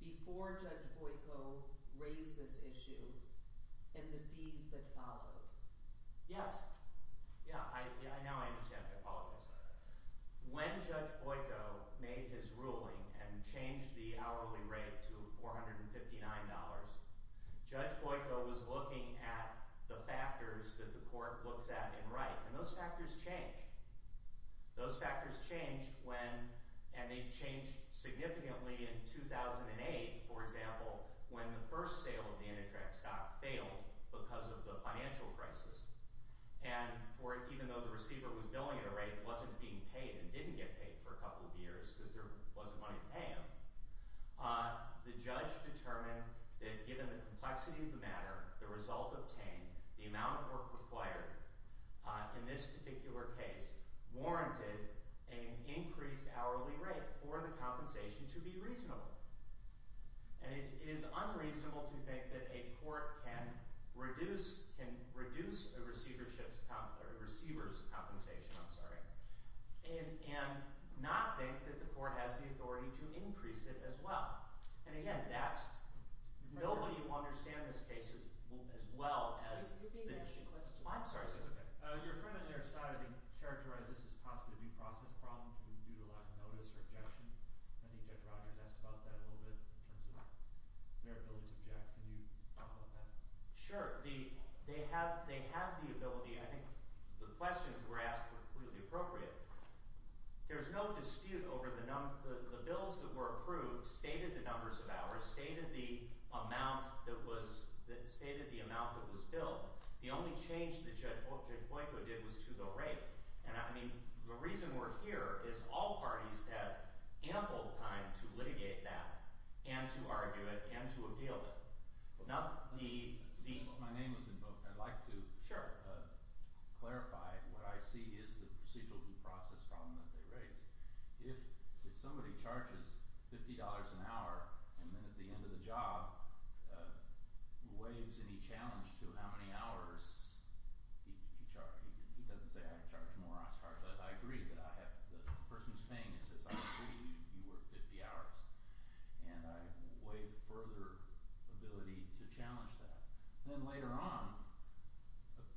before Judge Boyko raised this issue and the fees that followed? Yes. Yeah, now I understand. I apologize. When Judge Boyko made his ruling and changed the hourly rate to $459, Judge Boyko was looking at the factors that the court looks at in Wright, and those factors changed. Those factors changed when – and they changed significantly in 2008, for example, when the first sale of the Enitrac stock failed because of the financial crisis. And even though the receiver was billing at a rate that wasn't being paid and didn't get paid for a couple of years because there wasn't money to pay him, the judge determined that given the complexity of the matter, the result obtained, the amount of work required in this particular case warranted an increased hourly rate for the compensation to be reasonable. And it is unreasonable to think that a court can reduce a receiver's compensation and not think that the court has the authority to increase it as well. And again, that's – nobody will understand this case as well as the issue. You're being asked a question. Oh, I'm sorry. Your friend on your side, I think, characterized this as possibly a due process problem due to lack of notice or objection. I think Judge Rogers asked about that a little bit in terms of their ability to object. Can you talk about that? Sure. They have the ability. I think the questions were asked were clearly appropriate. There's no dispute over the bills that were approved stated the numbers of hours, stated the amount that was billed. The only change that Judge Boyko did was to the rate. And, I mean, the reason we're here is all parties have ample time to litigate that and to argue it and to appeal it. My name was invoked. I'd like to clarify what I see is the procedural due process problem that they raised. If somebody charges $50 an hour and then at the end of the job waives any challenge to how many hours he doesn't say, I charge more, I charge less. I agree that I have the person who's paying me says, I agree you work 50 hours. And I waive further ability to challenge that. Then later on,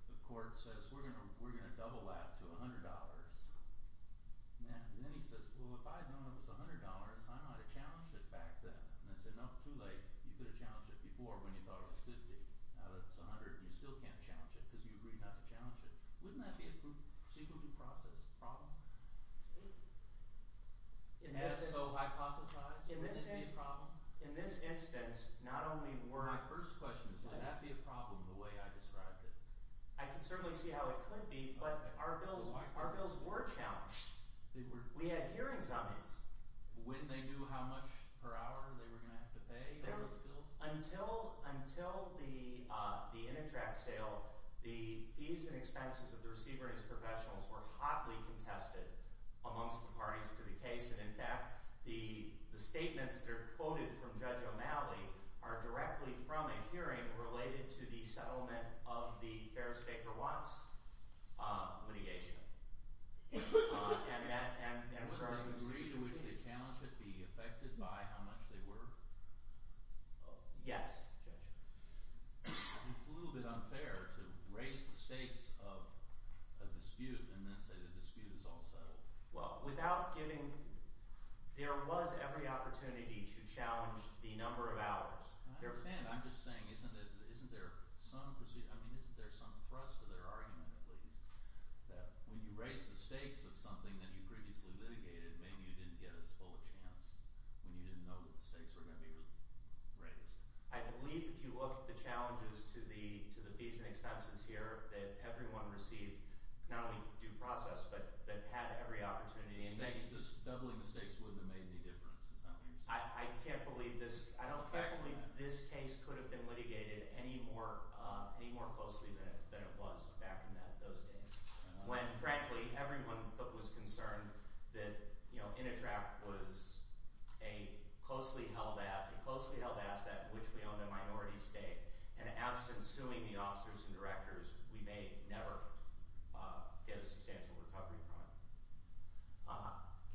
the court says, we're going to double that to $100. And then he says, well, if I had known it was $100, I might have challenged it back then. And I said, no, too late. You could have challenged it before when you thought it was 50. Now that it's 100, you still can't challenge it because you agreed not to challenge it. Wouldn't that be a procedural due process problem? In this instance, not only were – My first question is, would that be a problem the way I described it? I can certainly see how it could be, but our bills were challenged. We had hearings on these. When they knew how much per hour they were going to have to pay for those bills? Until the Initract sale, the fees and expenses of the receiver and his professionals were hotly contested amongst the parties to the case. And in fact, the statements that are quoted from Judge O'Malley are directly from a hearing related to the settlement of the Ferris Baker Watts litigation. Would the degree to which they challenged it be affected by how much they were? Yes, Judge. I think it's a little bit unfair to raise the stakes of a dispute and then say the dispute is all settled. Well, without giving – there was every opportunity to challenge the number of hours. I understand. I'm just saying isn't there some – I mean isn't there some thrust to their argument at least? That when you raise the stakes of something that you previously litigated, maybe you didn't get as full a chance when you didn't know that the stakes were going to be raised. I believe if you look at the challenges to the fees and expenses here that everyone received, not only due process, but had every opportunity. Doubling the stakes wouldn't have made any difference, is that what you're saying? I can't believe this – I don't believe this case could have been litigated any more closely than it was back in those days. When, frankly, everyone was concerned that Intertract was a closely held – a closely held asset, which we own the minority stake. And absent suing the officers and directors, we may never get a substantial recovery from it.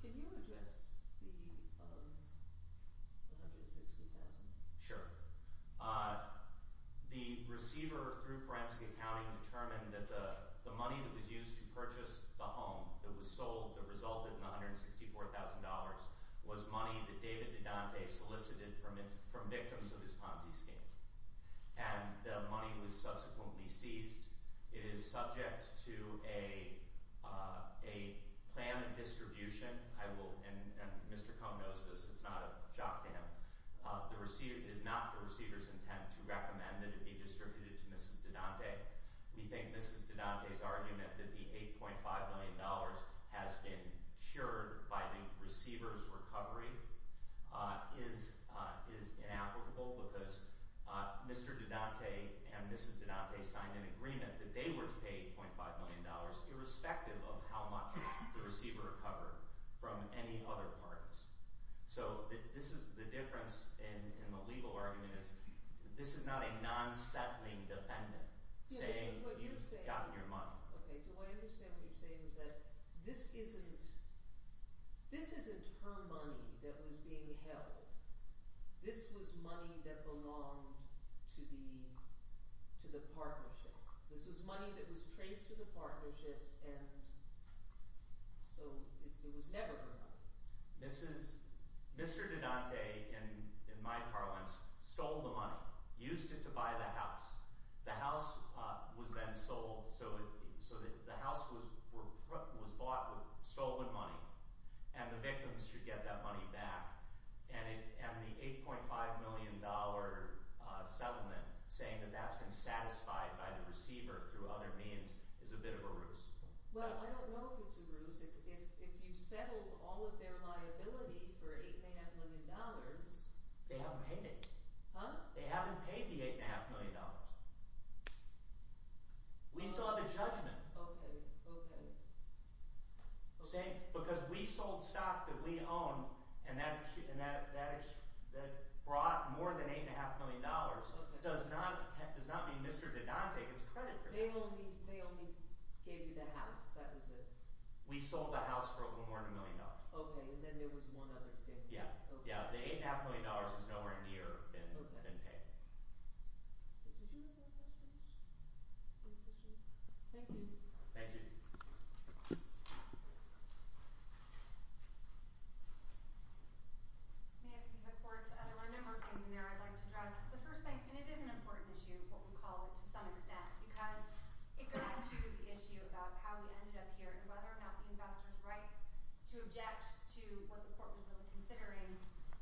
Can you address the $160,000? Sure. The receiver through forensic accounting determined that the money that was used to purchase the home that was sold that resulted in $164,000 was money that David DeDante solicited from victims of his Ponzi scheme. And the money was subsequently seized. It is subject to a plan of distribution. I will – and Mr. Cohn knows this, it's not a jock to him. It is not the receiver's intent to recommend that it be distributed to Mrs. DeDante. We think Mrs. DeDante's argument that the $8.5 million has been cured by the receiver's recovery is inapplicable because Mr. DeDante and Mrs. DeDante signed an agreement that they were to pay $8.5 million irrespective of how much the receiver recovered from any other parties. So this is – the difference in the legal argument is this is not a non-settling defendant saying you've gotten your money. Okay. Do I understand what you're saying is that this isn't – this isn't her money that was being held. This was money that belonged to the partnership. This was money that was traced to the partnership and so it was never her money. Mrs. – Mr. DeDante, in my parlance, stole the money, used it to buy the house. The house was then sold, so the house was bought with stolen money, and the victims should get that money back. And the $8.5 million settlement saying that that's been satisfied by the receiver through other means is a bit of a ruse. Well, I don't know if it's a ruse. If you settled all of their liability for $8.5 million… They haven't paid it. Huh? They haven't paid the $8.5 million. We still have a judgment. Okay, okay. I'm saying because we sold stock that we owned and that brought more than $8.5 million. It does not mean Mr. DeDante gets credit for that. They only gave you the house. That was it. We sold the house for a little more than $1 million. Okay, and then there was one other thing. Yeah, yeah. The $8.5 million is nowhere near been paid. Did you have any questions? No questions. Thank you. Thank you. I have some support. There were a number of things in there I'd like to address. The first thing, and it is an important issue, what we call it to some extent, because it goes to the issue of how we ended up here and whether or not the investor's rights to object to what the court was really considering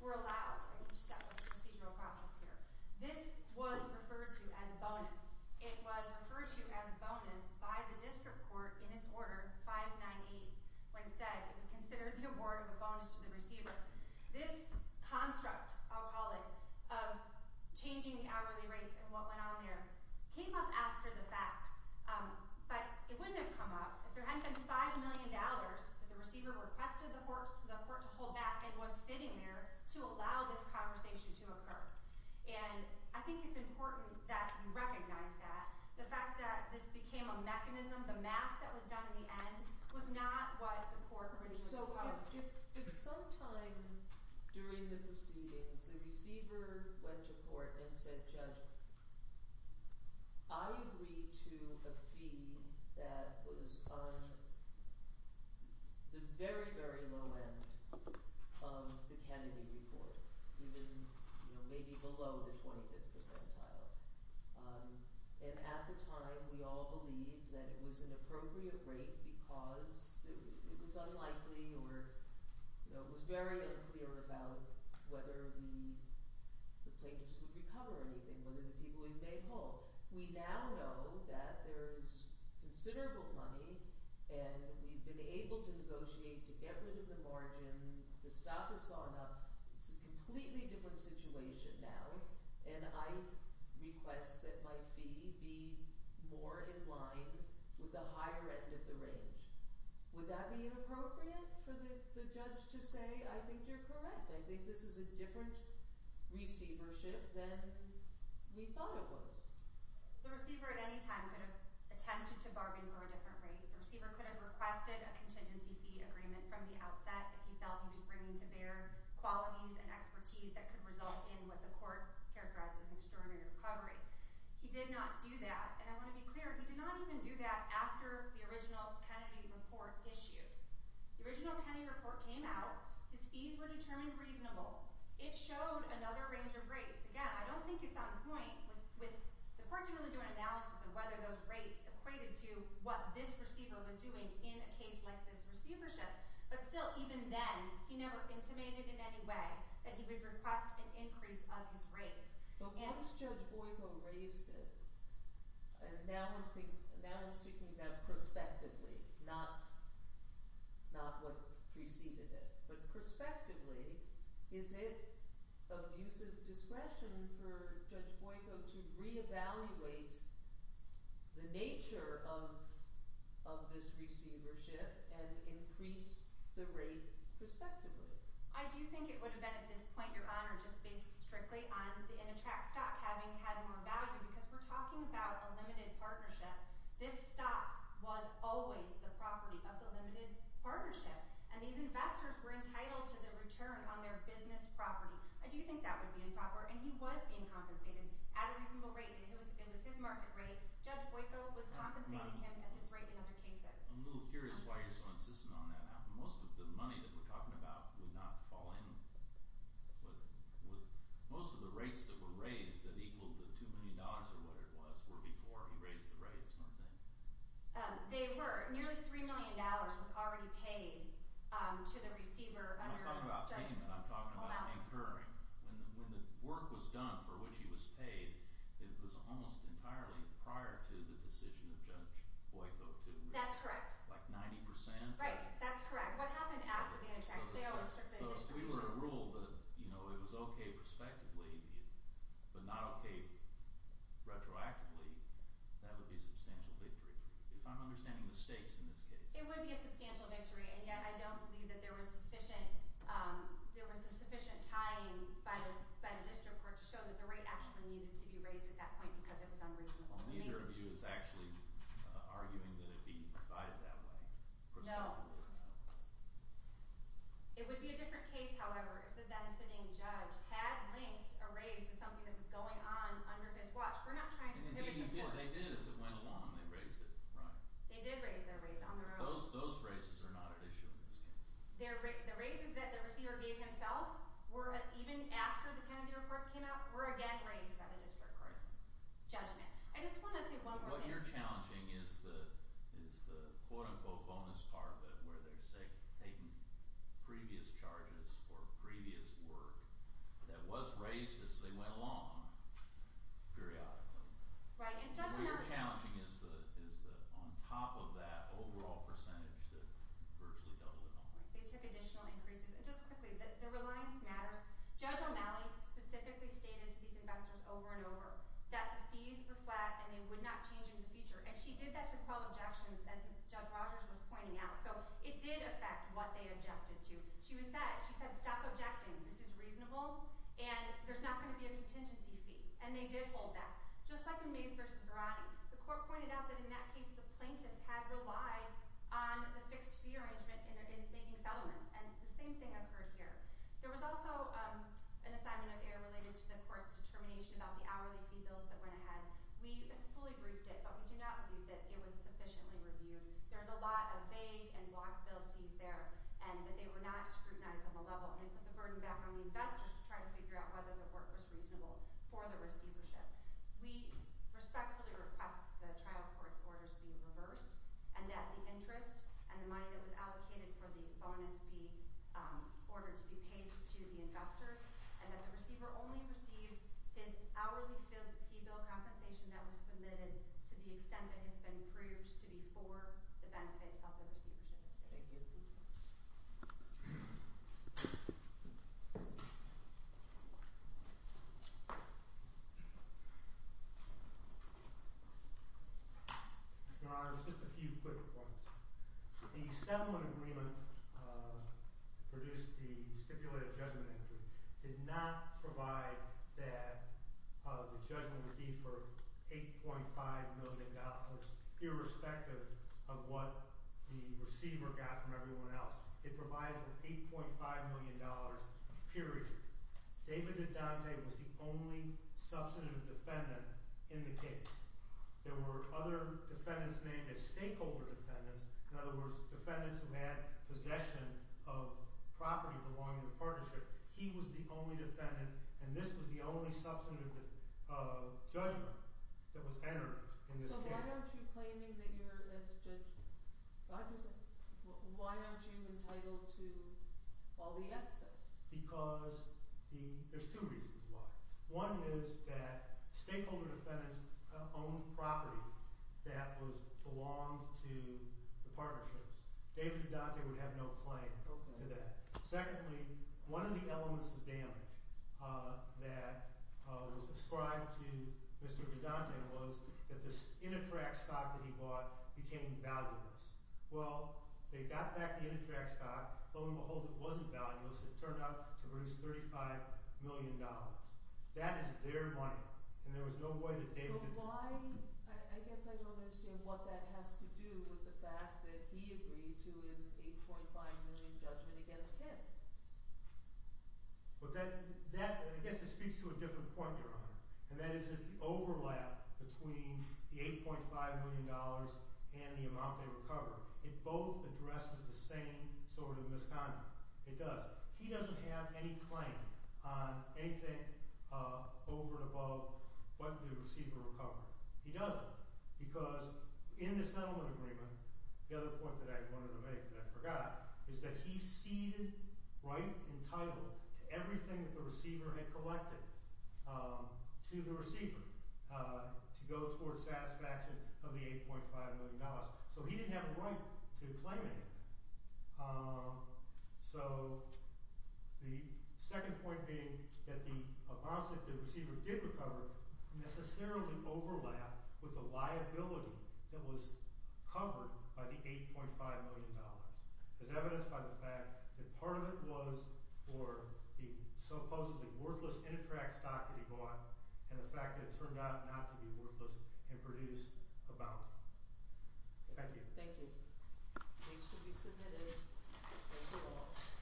were allowed in each step of the procedural process here. This was referred to as a bonus. It was referred to as a bonus by the district court in its order 598 when it said it would consider the award of a bonus to the receiver. This construct, I'll call it, of changing the hourly rates and what went on there came up after the fact. But it wouldn't have come up if there hadn't been $5 million that the receiver requested the court to hold back and was sitting there to allow this conversation to occur. And I think it's important that you recognize that. The fact that this became a mechanism, the math that was done in the end, was not what the court really proposed. So if sometime during the proceedings the receiver went to court and said, I agree to a fee that was on the very, very low end of the Kennedy report, even maybe below the 25th percentile. And at the time we all believed that it was an appropriate rate because it was unlikely or it was very unclear about whether the plaintiffs would recover anything. Whether the people we made whole. We now know that there's considerable money and we've been able to negotiate to get rid of the margin. The staff has gone up. It's a completely different situation now. And I request that my fee be more in line with the higher end of the range. Would that be inappropriate for the judge to say, I think you're correct. I think this is a different receivership than we thought it was. The receiver at any time could have attempted to bargain for a different rate. The receiver could have requested a contingency fee agreement from the outset if he felt he was bringing to bear qualities and expertise that could result in what the court characterized as an extraordinary recovery. He did not do that. And I want to be clear. He did not even do that after the original Kennedy report issued. The original Kennedy report came out. His fees were determined reasonable. It showed another range of rates. Again, I don't think it's on point with the court to really do an analysis of whether those rates equated to what this receiver was doing in a case like this receivership. But still, even then, he never intimated in any way that he would request an increase of his rates. But once Judge Boyko raised it, and now I'm speaking about prospectively, not what preceded it. But prospectively, is it of use of discretion for Judge Boyko to reevaluate the nature of this receivership and increase the rate prospectively? I do think it would have been at this point, Your Honor, just based strictly on the Intertrack stock having had more value because we're talking about a limited partnership. This stock was always the property of the limited partnership, and these investors were entitled to the return on their business property. I do think that would be improper, and he was being compensated at a reasonable rate. It was his market rate. Judge Boyko was compensating him at his rate in other cases. I'm a little curious why you're so insistent on that. Most of the money that we're talking about would not fall in – most of the rates that were raised that equaled the $2 million or whatever it was were before he raised the rates, weren't they? They were. Nearly $3 million was already paid to the receiver under – I'm talking about payment. I'm talking about incurring. When the work was done for which he was paid, it was almost entirely prior to the decision of Judge Boyko to – That's correct. Like 90%? Right. That's correct. What happened after the interjection? So if we were to rule that it was okay prospectively but not okay retroactively, that would be a substantial victory. If I'm understanding the stakes in this case. It would be a substantial victory, and yet I don't believe that there was sufficient tying by the district court to show that the rate actually needed to be raised at that point because it was unreasonable. Neither of you is actually arguing that it be provided that way. No. It would be a different case, however, if the then-sitting judge had linked a raise to something that was going on under his watch. We're not trying to pivot the court. They did as it went along. They raised it. Right. They did raise their rates on their own. Those raises are not at issue in this case. The raises that the receiver gave himself were – even after the Kennedy reports came out – were again raised by the district court's judgment. I just want to say one more thing. What we are challenging is the quote-unquote bonus part where they're taking previous charges for previous work that was raised as they went along periodically. Right. What we are challenging is the – on top of that – overall percentage that virtually doubled at that point. They took additional increases. Just quickly, the reliance matters. Judge O'Malley specifically stated to these investors over and over that the fees were flat and they would not change in the future. And she did that to quell objections, as Judge Rogers was pointing out. So it did affect what they objected to. She was sad. She said, stop objecting. This is reasonable, and there's not going to be a contingency fee. And they did hold that. Just like in Mays v. Verratti, the court pointed out that in that case, the plaintiffs had relied on the fixed-fee arrangement in making settlements. And the same thing occurred here. There was also an assignment of error related to the court's determination about the hourly fee bills that went ahead. We fully briefed it, but we do not believe that it was sufficiently reviewed. There's a lot of vague and block-billed fees there and that they were not scrutinized on the level. And they put the burden back on the investors to try to figure out whether the work was reasonable for the receivership. We respectfully request the trial court's orders be reversed, and that the interest and the money that was allocated for the bonus be ordered to be paid to the investors, and that the receiver only receive his hourly fee bill compensation that was submitted to the extent that it's been proved to be for the benefit of the receivership estate. Thank you. Your Honor, just a few quick points. The settlement agreement that produced the stipulated judgment entry did not provide that the judgment would be for $8.5 million, irrespective of what the receiver got from everyone else. It provided for $8.5 million, period. David DeDante was the only substantive defendant in the case. There were other defendants named as stakeholder defendants. In other words, defendants who had possession of property belonging to the partnership. He was the only defendant, and this was the only substantive judgment that was entered in this case. So why aren't you claiming that you're as judge – I'm just – why aren't you entitled to all the excess? Because the – there's two reasons why. One is that stakeholder defendants owned property that was – belonged to the partnerships. David DeDante would have no claim to that. Secondly, one of the elements of damage that was ascribed to Mr. DeDante was that this Innitrack stock that he bought became valueless. Well, they got back the Innitrack stock. Lo and behold, it wasn't valueless. It turned out to produce $35 million. That is their money, and there was no way that David – But why – I guess I don't understand what that has to do with the fact that he agreed to an $8.5 million judgment against him. But that – I guess it speaks to a different point, Your Honor. And that is that the overlap between the $8.5 million and the amount they recovered, it both addresses the same sort of misconduct. It does. He doesn't have any claim on anything over and above what the receiver recovered. He doesn't. Because in the settlement agreement, the other point that I wanted to make that I forgot is that he ceded right and title to everything that the receiver had collected to the receiver to go toward satisfaction of the $8.5 million. So he didn't have a right to claim anything. So the second point being that the amount that the receiver did recover necessarily overlapped with the liability that was covered by the $8.5 million. It's evidenced by the fact that part of it was for the supposedly worthless Innitrack stock that he bought and the fact that it turned out not to be worthless and produced a bounty. Thank you. Thank you. Case to be submitted. Thank you all.